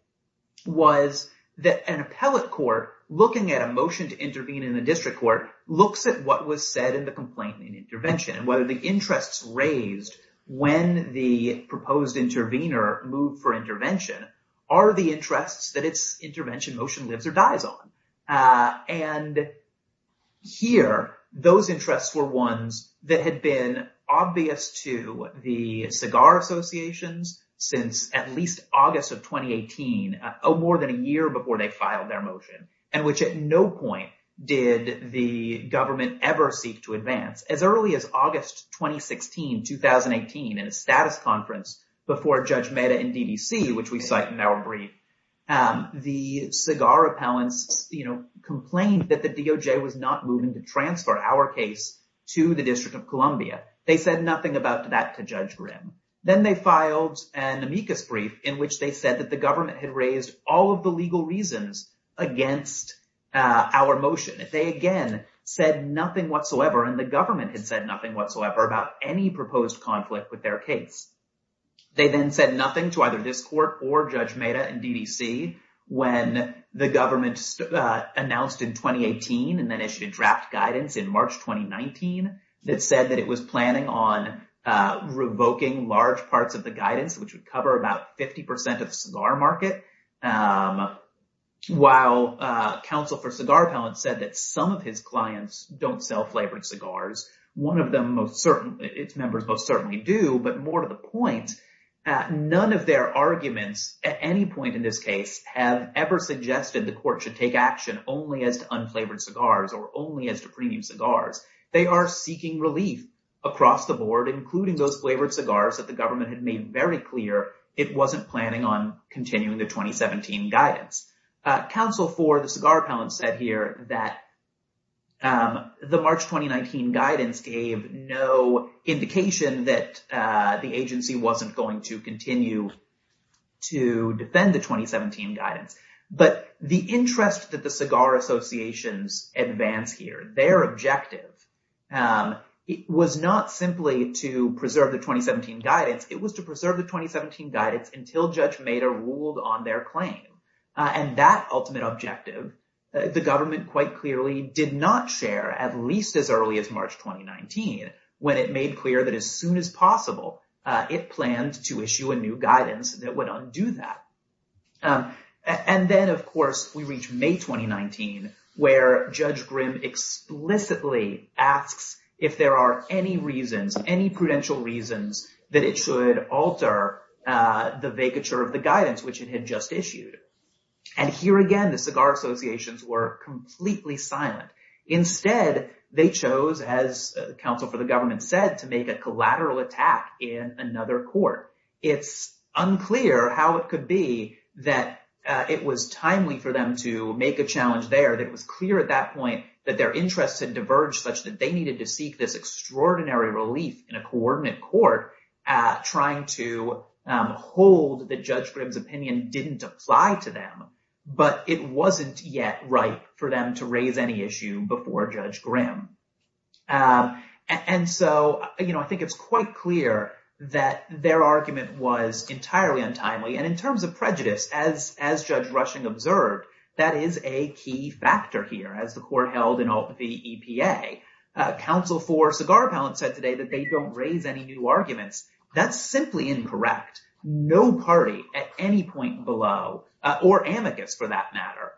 was that an appellate court looking at a motion to intervene in a district court looks at what was said in the complaint and intervention and whether the interests raised when the proposed intervener moved for intervention are the interests that its intervention motion lives or dies on. And here, those interests were ones that had been obvious to the cigar associations since at least August of 2018, more than a year before they filed their motion, and which at no point did the government ever seek to advance. As early as August 2016, 2018, in a status conference before Judge Mehta in DDC, which we cite in our brief, the cigar appellants complained that the DOJ was not moving to transfer our case to the District of Columbia. They said nothing about that to Judge Grimm. Then they filed an amicus brief in which they said that the government had raised all of the legal reasons against our motion. They, again, said nothing whatsoever, and the government had said nothing whatsoever about any proposed conflict with their case. They then said nothing to either this court or Judge Mehta in DDC when the government announced in 2018 and then issued a draft guidance in March 2019 that said that it was planning on revoking large parts of the guidance, which would cover about 50% of the cigar market, while counsel for cigar appellants said that some of his clients don't sell flavored cigars. One of them most certainly, its members most certainly do, but more to the point, none of their arguments at any point in this case have ever suggested the court should take action only as to unflavored cigars or only as to premium cigars. They are seeking relief across the board, including those flavored cigars that the government had made very clear it wasn't planning on continuing the 2017 guidance. Counsel for the cigar appellants said here that the March 2019 guidance gave no indication that the agency wasn't going to continue to defend the 2017 guidance, but the interest that the cigar associations advance here, their objective was not simply to preserve the 2017 guidance. It was to preserve the 2017 guidance until Judge Mader ruled on their claim. And that ultimate objective, the government quite clearly did not share at least as early as March 2019 when it made clear that as soon as possible, it planned to issue a new guidance that would undo that. And then, of course, we reach May 2019, where Judge Grimm explicitly asks if there are any reasons, any prudential reasons that it should alter the vacature of the guidance which it had just issued. And here again, the cigar associations were completely silent. Instead, they chose, as counsel for the government said, to make a collateral attack in another court. It's unclear how it could be that it was timely for them to make a challenge there that was clear at that point that their interests had diverged such that they needed to seek this extraordinary relief in a coordinate court trying to hold that Judge Grimm's opinion didn't apply to them, but it wasn't yet right for them to raise any issue before Judge Grimm. And so, you know, I think it's quite clear that their argument was entirely untimely. And in terms of prejudice, as Judge Rushing observed, that is a key factor here. As the court held in the EPA, counsel for cigar appellants said today that they don't raise any new arguments. That's simply incorrect. No party at any point below, or amicus for that matter,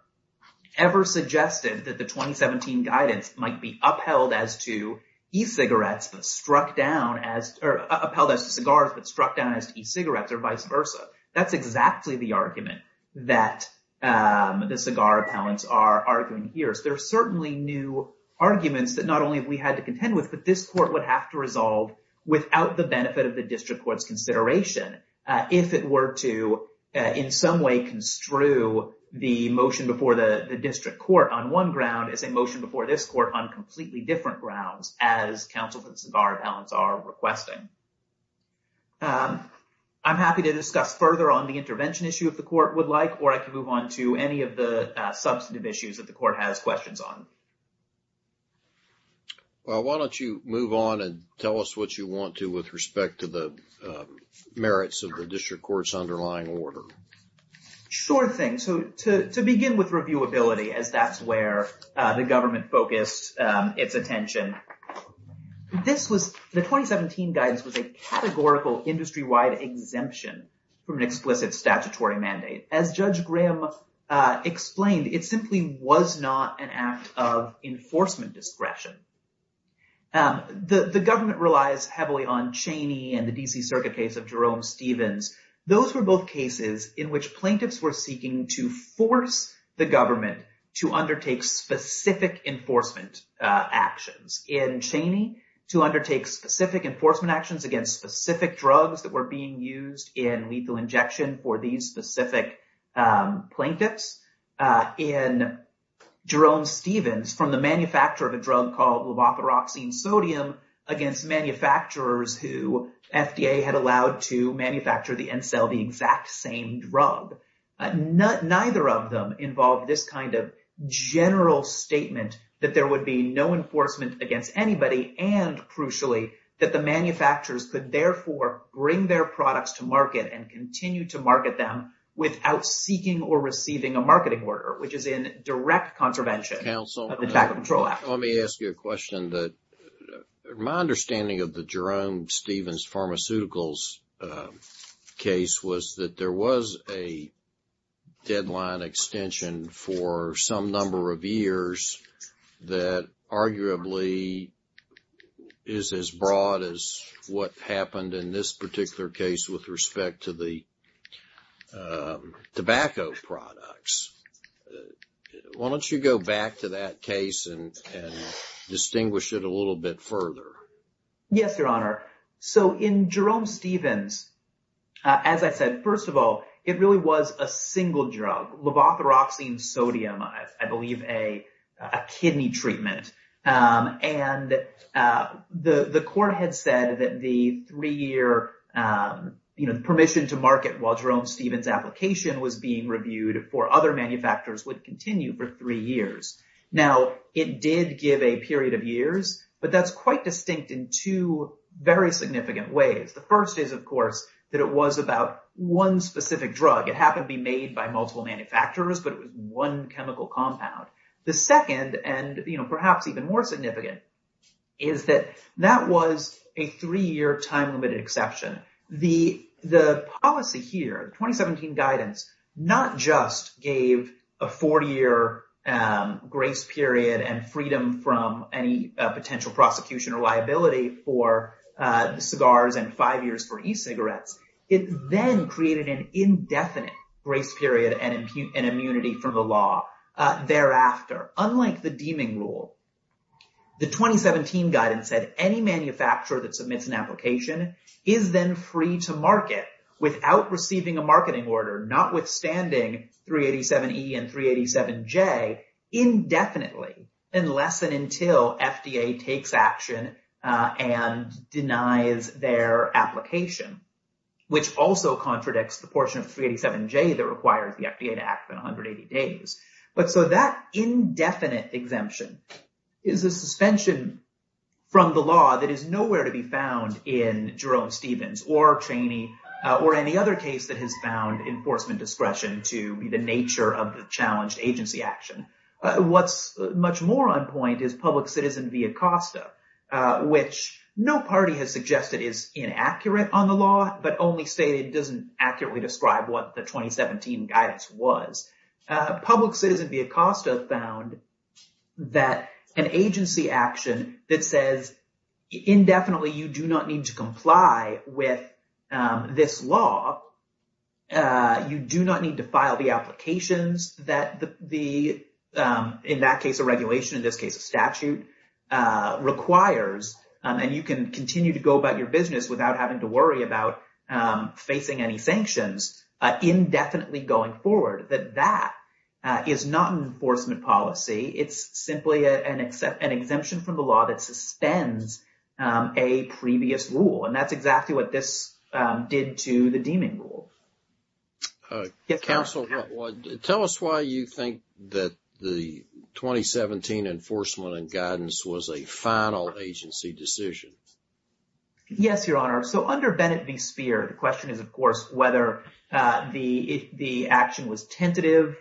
ever suggested that the 2017 guidance might be upheld as to e-cigarettes but struck down as—or upheld as to cigars but struck down as to e-cigarettes or vice versa. That's exactly the argument that the cigar appellants are arguing here. So there are certainly new arguments that not only have we had to contend with, but this court would have to resolve without the benefit of the district court's consideration if it were to in some way construe the motion before the district court on one ground as a motion before this court on completely different grounds as counsel for the cigar appellants are requesting. I'm happy to discuss further on the intervention issue if the court would like, or I can move on to any of the substantive issues that the court has questions on. Well, why don't you move on and tell us what you want to with respect to the merits of the district court's underlying order. Sure thing. So to begin with reviewability, as that's where the government focused its attention, this was—the 2017 guidance was a categorical industry-wide exemption from an explicit statutory mandate. As Judge Graham explained, it simply was not an act of enforcement discretion. The government relies heavily on Cheney and the D.C. Circuit case of Jerome Stevens. Those were both cases in which plaintiffs were seeking to force the government to undertake specific enforcement actions. In Cheney, to undertake specific enforcement actions against specific drugs that were being used in lethal injection for these specific plaintiffs. In Jerome Stevens, from the manufacture of a drug called levothyroxine sodium against manufacturers who FDA had allowed to manufacture and sell the exact same drug. Neither of them involved this kind of general statement that there would be no enforcement against anybody and, crucially, that the manufacturers could therefore bring their products to market and continue to market them without seeking or receiving a marketing order, which is in direct contravention of the Tax Control Act. Let me ask you a question. My understanding of the Jerome Stevens pharmaceuticals case was that there was a deadline extension for some number of years that arguably is as broad as what happened in this particular case with respect to the tobacco products. Why don't you go back to that case and distinguish it a little bit further? Yes, Your Honor. So, in Jerome Stevens, as I said, first of all, it really was a single drug, levothyroxine sodium, I believe, a kidney treatment. And the court had said that the three-year permission to market while Jerome Stevens' application was being reviewed for other manufacturers would continue for three years. Now, it did give a period of years, but that's quite distinct in two very significant ways. The first is, of course, that it was about one specific drug. It happened to be made by multiple manufacturers, but it was one chemical compound. The second, and perhaps even more significant, is that that was a three-year time-limited exception. The policy here, 2017 guidance, not just gave a four-year grace period and freedom from any potential prosecution or liability for cigars and five years for e-cigarettes. It then created an indefinite grace period and immunity from the law thereafter. Unlike the deeming rule, the 2017 guidance said any manufacturer that submits an application is then free to market without receiving a marketing order, notwithstanding 387E and 387J, indefinitely, unless and until FDA takes action and denies their application, which also contradicts the portion of 387J that requires the FDA to act within 180 days. But so that indefinite exemption is a suspension from the law that is nowhere to be found in Jerome Stevens or Cheney or any other case that has found enforcement discretion to the nature of the challenged agency action. What's much more on point is Public Citizen v. Acosta, which no party has suggested is inaccurate on the law, but only stated it doesn't accurately describe what the 2017 guidance was. Public Citizen v. Acosta found that an agency action that says, indefinitely, you do not need to comply with this law, you do not need to file the applications that the, in that case, a regulation, in this case, a statute requires, and you can continue to go about your business without having to worry about facing any sanctions indefinitely going forward, that that is not an enforcement policy. It's simply an exemption from the law that suspends a previous rule. And that's exactly what this did to the deeming rule. Counsel, tell us why you think that the 2017 enforcement and guidance was a final agency decision. Yes, Your Honor. So under Bennett v. Speer, the question is, of course, whether the action was tentative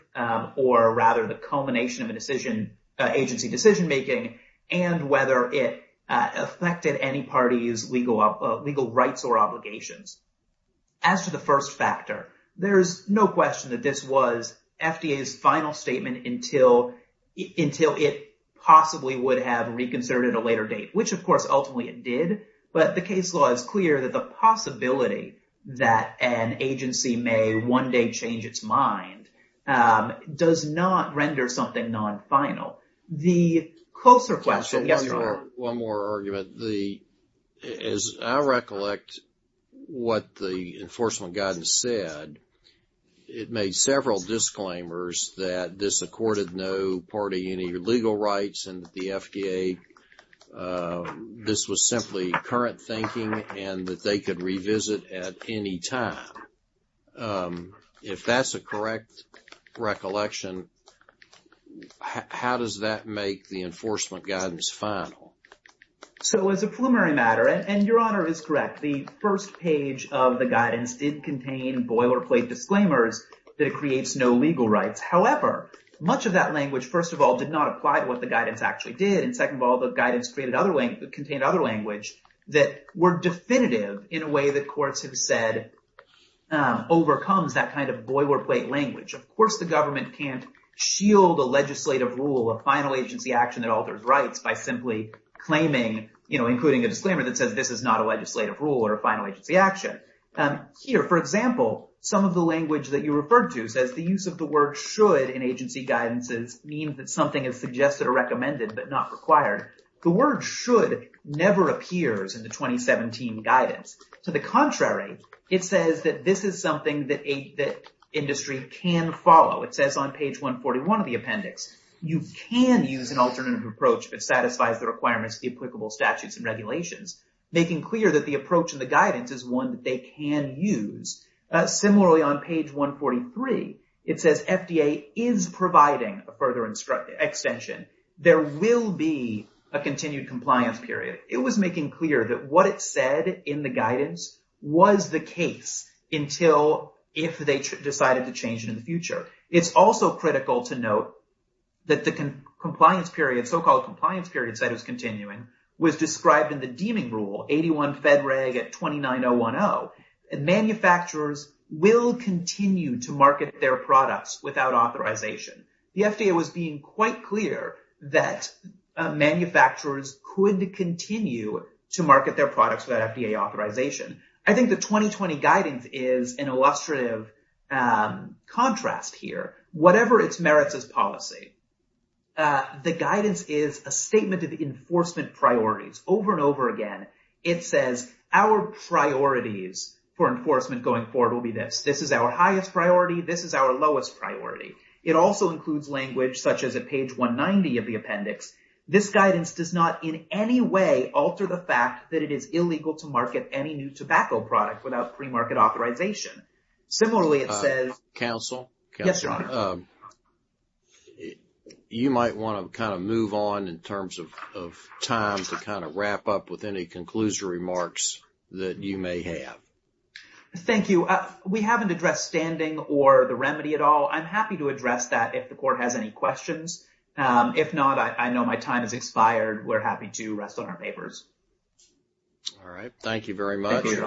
or rather the culmination of an agency decision-making, and whether it affected any party's legal rights or obligations. As to the first factor, there's no question that this was FDA's final statement until it possibly would have reconsidered at a later date, which, of course, ultimately it did. But the case law is clear that the possibility that an agency may one day change its mind does not render something non-final. The closer question, yes, Your Honor. Counsel, one more argument. As I recollect what the enforcement guidance said, it made several disclaimers that this accorded no party any legal rights and that the FDA, this was simply current thinking and that they could If that's a correct recollection, how does that make the enforcement guidance final? So as a preliminary matter, and Your Honor is correct, the first page of the guidance did contain boilerplate disclaimers that it creates no legal rights. However, much of that language, first of all, did not apply to what the guidance actually did, and second of all, the guidance contained other language that were definitive in a way that courts have said overcomes that kind of boilerplate language. Of course the government can't shield a legislative rule, a final agency action that alters rights by simply claiming, including a disclaimer that says this is not a legislative rule or a final agency action. Here, for example, some of the language that you referred to says the use of the word should in agency guidances means that something is suggested or recommended but not required. The word should never appears in the 2017 guidance. To the contrary, it says that this is something that industry can follow. It says on page 141 of the appendix, you can use an alternative approach if it satisfies the requirements of the applicable statutes and regulations, making clear that the approach and the guidance is one that they can use. Similarly on page 143, it says FDA is providing a further extension. There will be a continued compliance period. It was making clear that what it said in the guidance was the case until if they decided to change it in the future. It's also critical to note that the compliance period, so-called compliance period, said it was continuing, was described in the deeming rule, 81 Fed Reg at 29010. Manufacturers will continue to market their products without authorization. The FDA was being quite clear that manufacturers could continue to market their products without FDA authorization. I think the 2020 guidance is an illustrative contrast here. Whatever its merits as policy, the guidance is a statement of enforcement priorities over and over again. It says our priorities for enforcement going forward will be this. This is our highest priority. This is our lowest priority. It also includes language such as at page 190 of the appendix. This guidance does not in any way alter the fact that it is illegal to market any new tobacco product without pre-market authorization. Similarly, it says- Counsel? Yes, Your Honor. You might want to kind of move on in terms of time to kind of wrap up with any conclusive remarks that you may have. Thank you. We haven't addressed standing or the remedy at all. I'm happy to address that if the Court has any questions. If not, I know my time has expired. We're happy to rest on our papers. All right. Thank you very much. Thank you, Your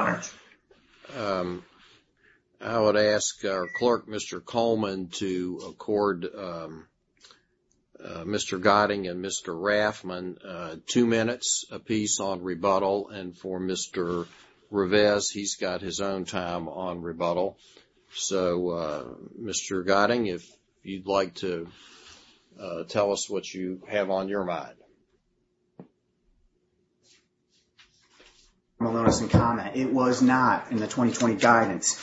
Honor. I would ask our clerk, Mr. Coleman, to accord Mr. Gotting and Mr. Raffman two minutes apiece on rebuttal. And for Mr. Rivez, he's got his own time on rebuttal. So, Mr. Gotting, if you'd like to tell us what you have on your mind. It was not in the 2020 guidance.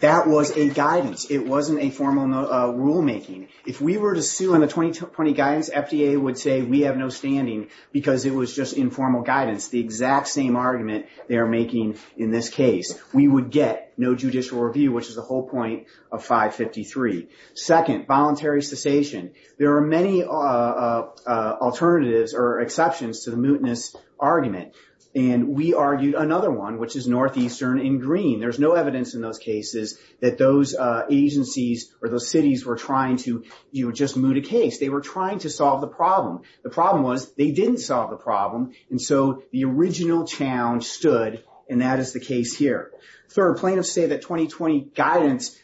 That was a guidance. It wasn't a formal rulemaking. If we were to sue in the 2020 guidance, FDA would say, we have no standing because it was just informal guidance, the exact same argument they are making in this case. We would get no judicial review, which is the whole point of 553. Second, voluntary cessation. There are many alternatives or exceptions to the mootness argument. And we argued another one, which is northeastern and green. There's no evidence in those cases that those agencies or those cities were trying to just moot a case. They were trying to solve the problem. The problem was they didn't solve the problem. And so the original challenge stood, and that is the case here. Third, plaintiffs say that 2020 guidance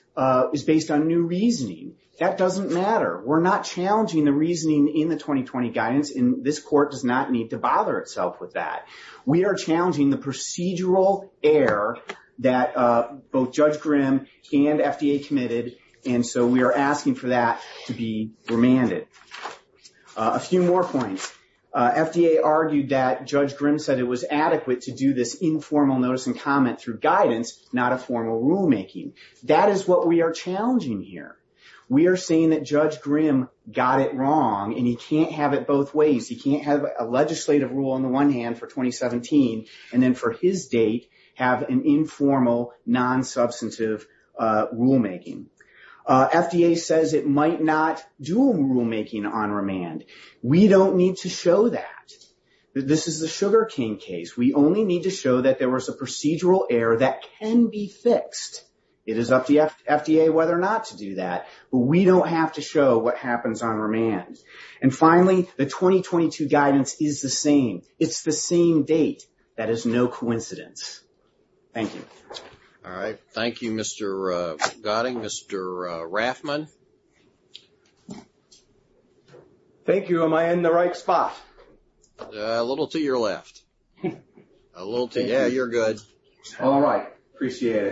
is based on new reasoning. That doesn't matter. We're not challenging the reasoning in the 2020 guidance, and this court does not need to bother itself with that. We are challenging the procedural error that both Judge Grimm and FDA committed, and so we are asking for that to be remanded. A few more points. FDA argued that Judge Grimm said it was adequate to do this informal notice and comment through guidance, not a formal rulemaking. That is what we are challenging here. We are saying that Judge Grimm got it wrong, and he can't have it both ways. He can't have a legislative rule on the one hand for 2017 and then for his date have an informal, non-substantive rulemaking. FDA says it might not do a rulemaking on remand. We don't need to show that. This is the Sugar King case. We only need to show that there was a procedural error that can be fixed. It is up to FDA whether or not to do that, but we don't have to show what happens on remand. And finally, the 2022 guidance is the same. It's the same date. That is no coincidence. Thank you. All right. Thank you, Mr. Gotti. Mr. Raffman? Thank you. Am I in the right spot? A little to your left. Yeah, you're good. All right. Appreciate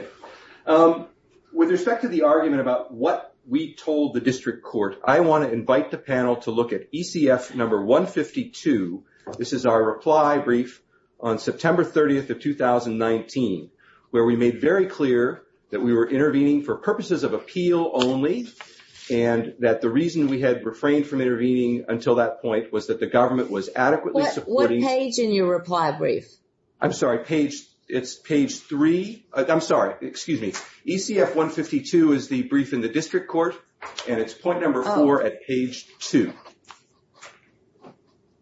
it. With respect to the argument about what we told the district court, I want to invite the panel to look at ECF number 152. This is our reply brief on September 30th of 2019, where we made very clear that we were intervening for purposes of appeal only, and that the reason we had refrained from intervening until that point was that the government was adequately supporting. What page in your reply brief? I'm sorry. It's page three. I'm sorry. Excuse me. ECF 152 is the brief in the district court, and it's point number four at page two.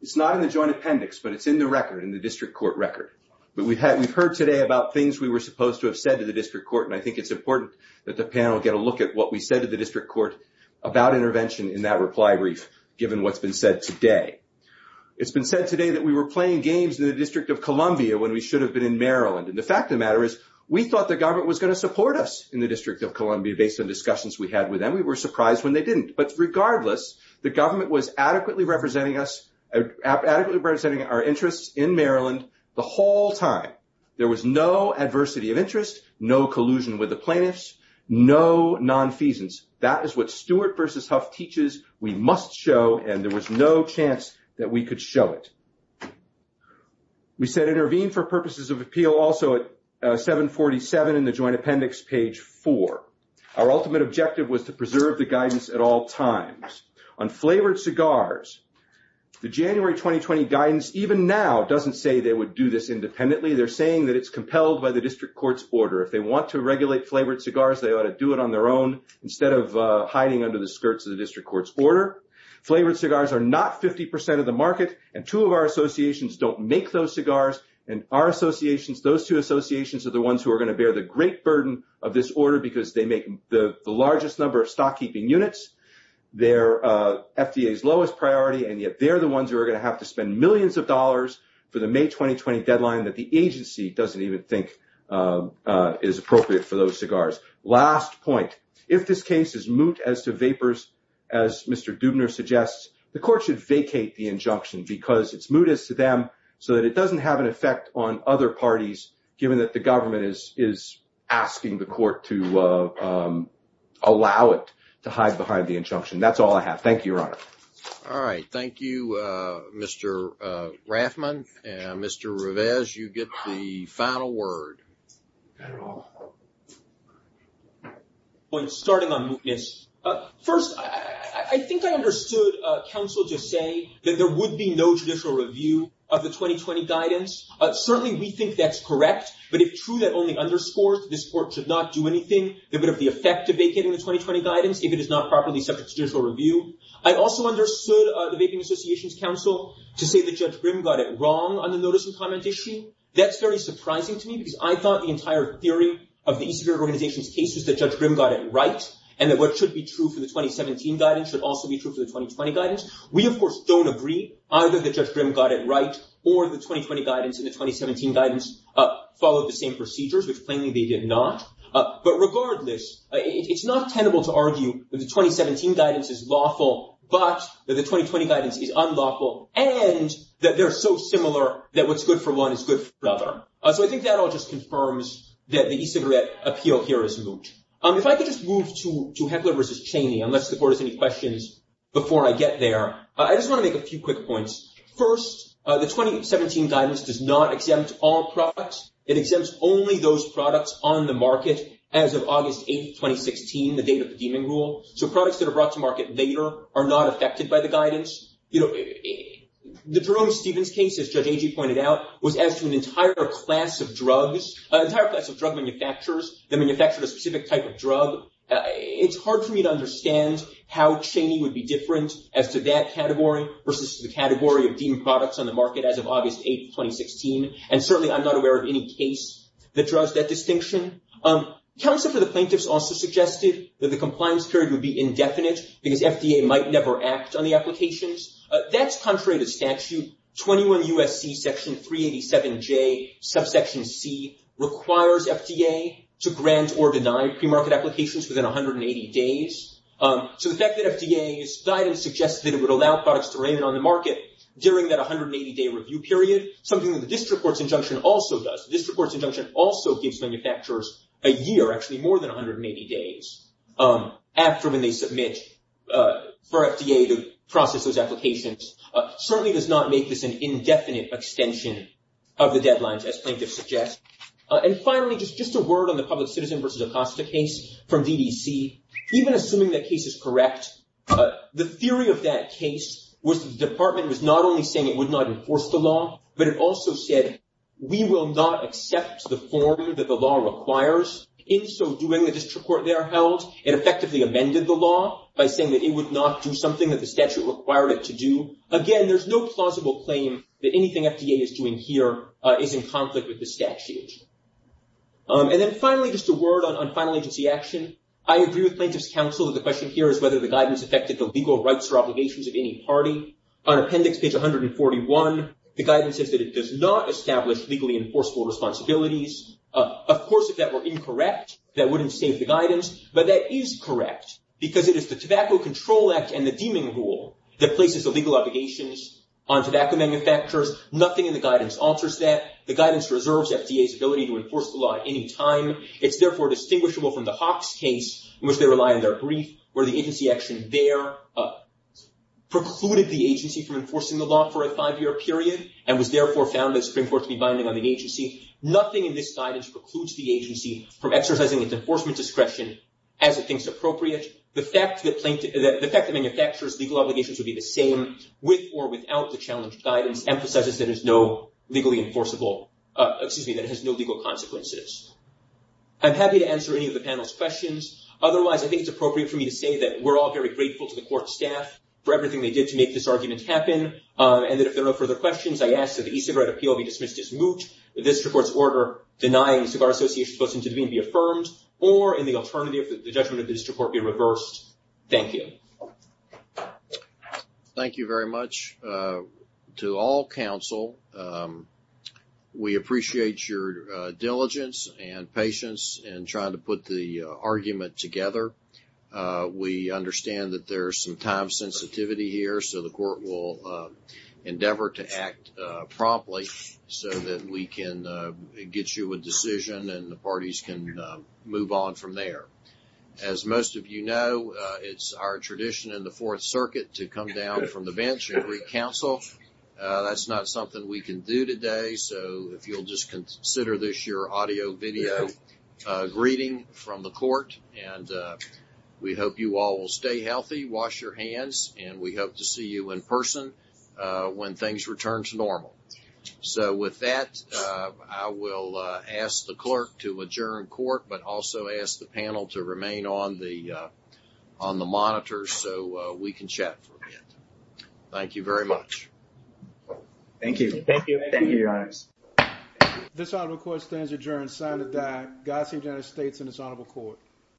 It's not in the joint appendix, but it's in the record, in the district court record. We've heard today about things we were supposed to have said to the district court, and I think it's important that the panel get a look at what we said to the district court about intervention in that reply brief, given what's been said today. It's been said today that we were playing games in the District of Columbia when we should have been in Maryland. And the fact of the matter is, we thought the government was going to support us in the District of Columbia based on discussions we had with them. We were surprised when they didn't. But regardless, the government was adequately representing us, adequately representing our interests in Maryland the whole time. There was no adversity of interest, no collusion with the plaintiffs, no nonfeasance. That is what Stewart versus Huff teaches we must show, and there was no chance that we could show it. We said intervene for purposes of appeal also at 747 in the joint appendix, page four. Our ultimate objective was to preserve the guidance at all times. On flavored cigars, the January 2020 guidance, even now, doesn't say they would do this independently. They're saying that it's compelled by the district court's order. If they want to regulate flavored cigars, they ought to do it on their own instead of hiding under the skirts of the district court's order. Flavored cigars are not 50% of the market, and two of our associations don't make those cigars. And our associations, those two associations are the ones who are going to bear the great burden of this order because they make the largest number of stock-keeping units. They're FDA's lowest priority, and yet they're the ones who are going to have to spend millions of dollars for the May 2020 deadline that the agency doesn't even think is appropriate for those cigars. Last point, if this case is moot as to vapors, as Mr. Dubner suggests, the court should vacate the injunction because it's mootest to them so that it doesn't have an effect on other parties, given that the government is asking the court to allow it to hide behind the injunction. That's all I have. Thank you, Your Honor. All right. Thank you, Mr. Raffman. And Mr. Rivez, you get the final word. Starting on mootness. First, I think I understood counsel to say that there would be no judicial review of the 2020 guidance. Certainly we think that's correct, but if true that only underscores that this court should not do anything that would have the effect of vacating the 2020 guidance if it is not properly subject to judicial review. I also understood the Vaping Association's counsel to say that Judge Grimm got it wrong on the notice and comment issue. That's very surprising to me because I thought the entire theory of the e-Cigarette Organization's case was that Judge Grimm got it right, and that what should be true for the 2017 guidance should also be true for the 2020 guidance. We, of course, don't agree either that Judge Grimm got it right or the 2020 guidance and the 2017 guidance followed the same procedures, which plainly they did not. But regardless, it's not tenable to argue that the 2017 guidance is lawful, but that the 2020 guidance is unlawful, and that they're so similar that what's good for one is good for the other. So I think that all just confirms that the e-cigarette appeal here is moot. If I could just move to Heckler v. Cheney, unless the board has any questions before I get there, I just want to make a few quick points. First, the 2017 guidance does not exempt all products. It exempts only those products on the market as of August 8, 2016, the date of the deeming rule. So products that are brought to market later are not affected by the guidance. You know, the Jerome Stevens case, as Judge Agee pointed out, was as to an entire class of drugs, an entire class of drug manufacturers that manufactured a specific type of drug. It's hard for me to understand how Cheney would be different as to that category versus the category of deemed products on the market as of August 8, 2016. And certainly, I'm not aware of any case that draws that distinction. Counsel for the plaintiffs also suggested that the compliance period would be indefinite because FDA might never act on the applications. That's contrary to statute. 21 U.S.C. Section 387J, Subsection C, requires FDA to grant or deny premarket applications within 180 days. So the fact that FDA's guidance suggests that it would allow products to remain on the market during that 180-day review period, something that the district court's injunction also does, the district court's injunction also gives manufacturers a year, actually more than 180 days, after when they submit for FDA to process those applications, certainly does not make this an indefinite extension of the deadlines, as plaintiffs suggest. And finally, just a word on the public citizen versus Acosta case from DDC. Even assuming that case is correct, the theory of that case was that the department was not only saying it would not enforce the law, but it also said we will not accept the form that the law requires. In so doing, the district court there held and effectively amended the law by saying that it would not do something that the statute required it to do. Again, there's no plausible claim that anything FDA is doing here is in conflict with the statute. And then finally, just a word on final agency action. I agree with plaintiffs' counsel that the question here is whether the guidance affected the legal rights or obligations of any party. On appendix page 141, the guidance says that it does not establish legally enforceable responsibilities. Of course, if that were incorrect, that wouldn't save the guidance, but that is correct because it is the Tobacco Control Act and the Deeming Rule that places the legal obligations on tobacco manufacturers. Nothing in the guidance alters that. The guidance reserves FDA's ability to enforce the law at any time. It's therefore distinguishable from the Hawks case, in which they rely on their brief, where the agency action there precluded the agency from enforcing the law for a five-year period and was therefore found by the Supreme Court to be binding on the agency. Nothing in this guidance precludes the agency from exercising its enforcement discretion as it thinks appropriate. The fact that manufacturers' legal obligations would be the same with or without the challenged guidance emphasizes that it has no legal consequences. I'm happy to answer any of the panel's questions. Otherwise, I think it's appropriate for me to say that we're all very grateful to the court staff for everything they did to make this argument happen, and that if there are no further questions, I ask that the e-cigarette appeal be dismissed as moot, the district court's order denying the Cigar Association's position to be affirmed, or in the alternative, the judgment of the district court be reversed. Thank you. Thank you very much. To all counsel, we appreciate your diligence and patience in trying to put the argument together. We understand that there's some time sensitivity here, so the court will endeavor to act promptly so that we can get you a decision and the parties can move on from there. As most of you know, it's our tradition in the Fourth Circuit to come down from the bench and greet counsel. That's not something we can do today, so if you'll just consider this your audio video greeting from the court and we hope you all will stay healthy, wash your hands, and we hope to see you in person when things return to normal. So with that, I will ask the clerk to adjourn court, but also ask the panel to remain on the monitor so we can chat for a bit. Thank you very much. Thank you. Thank you. Thank you, Your Honor. This honorable court stands adjourned, God save the United States and this honorable court.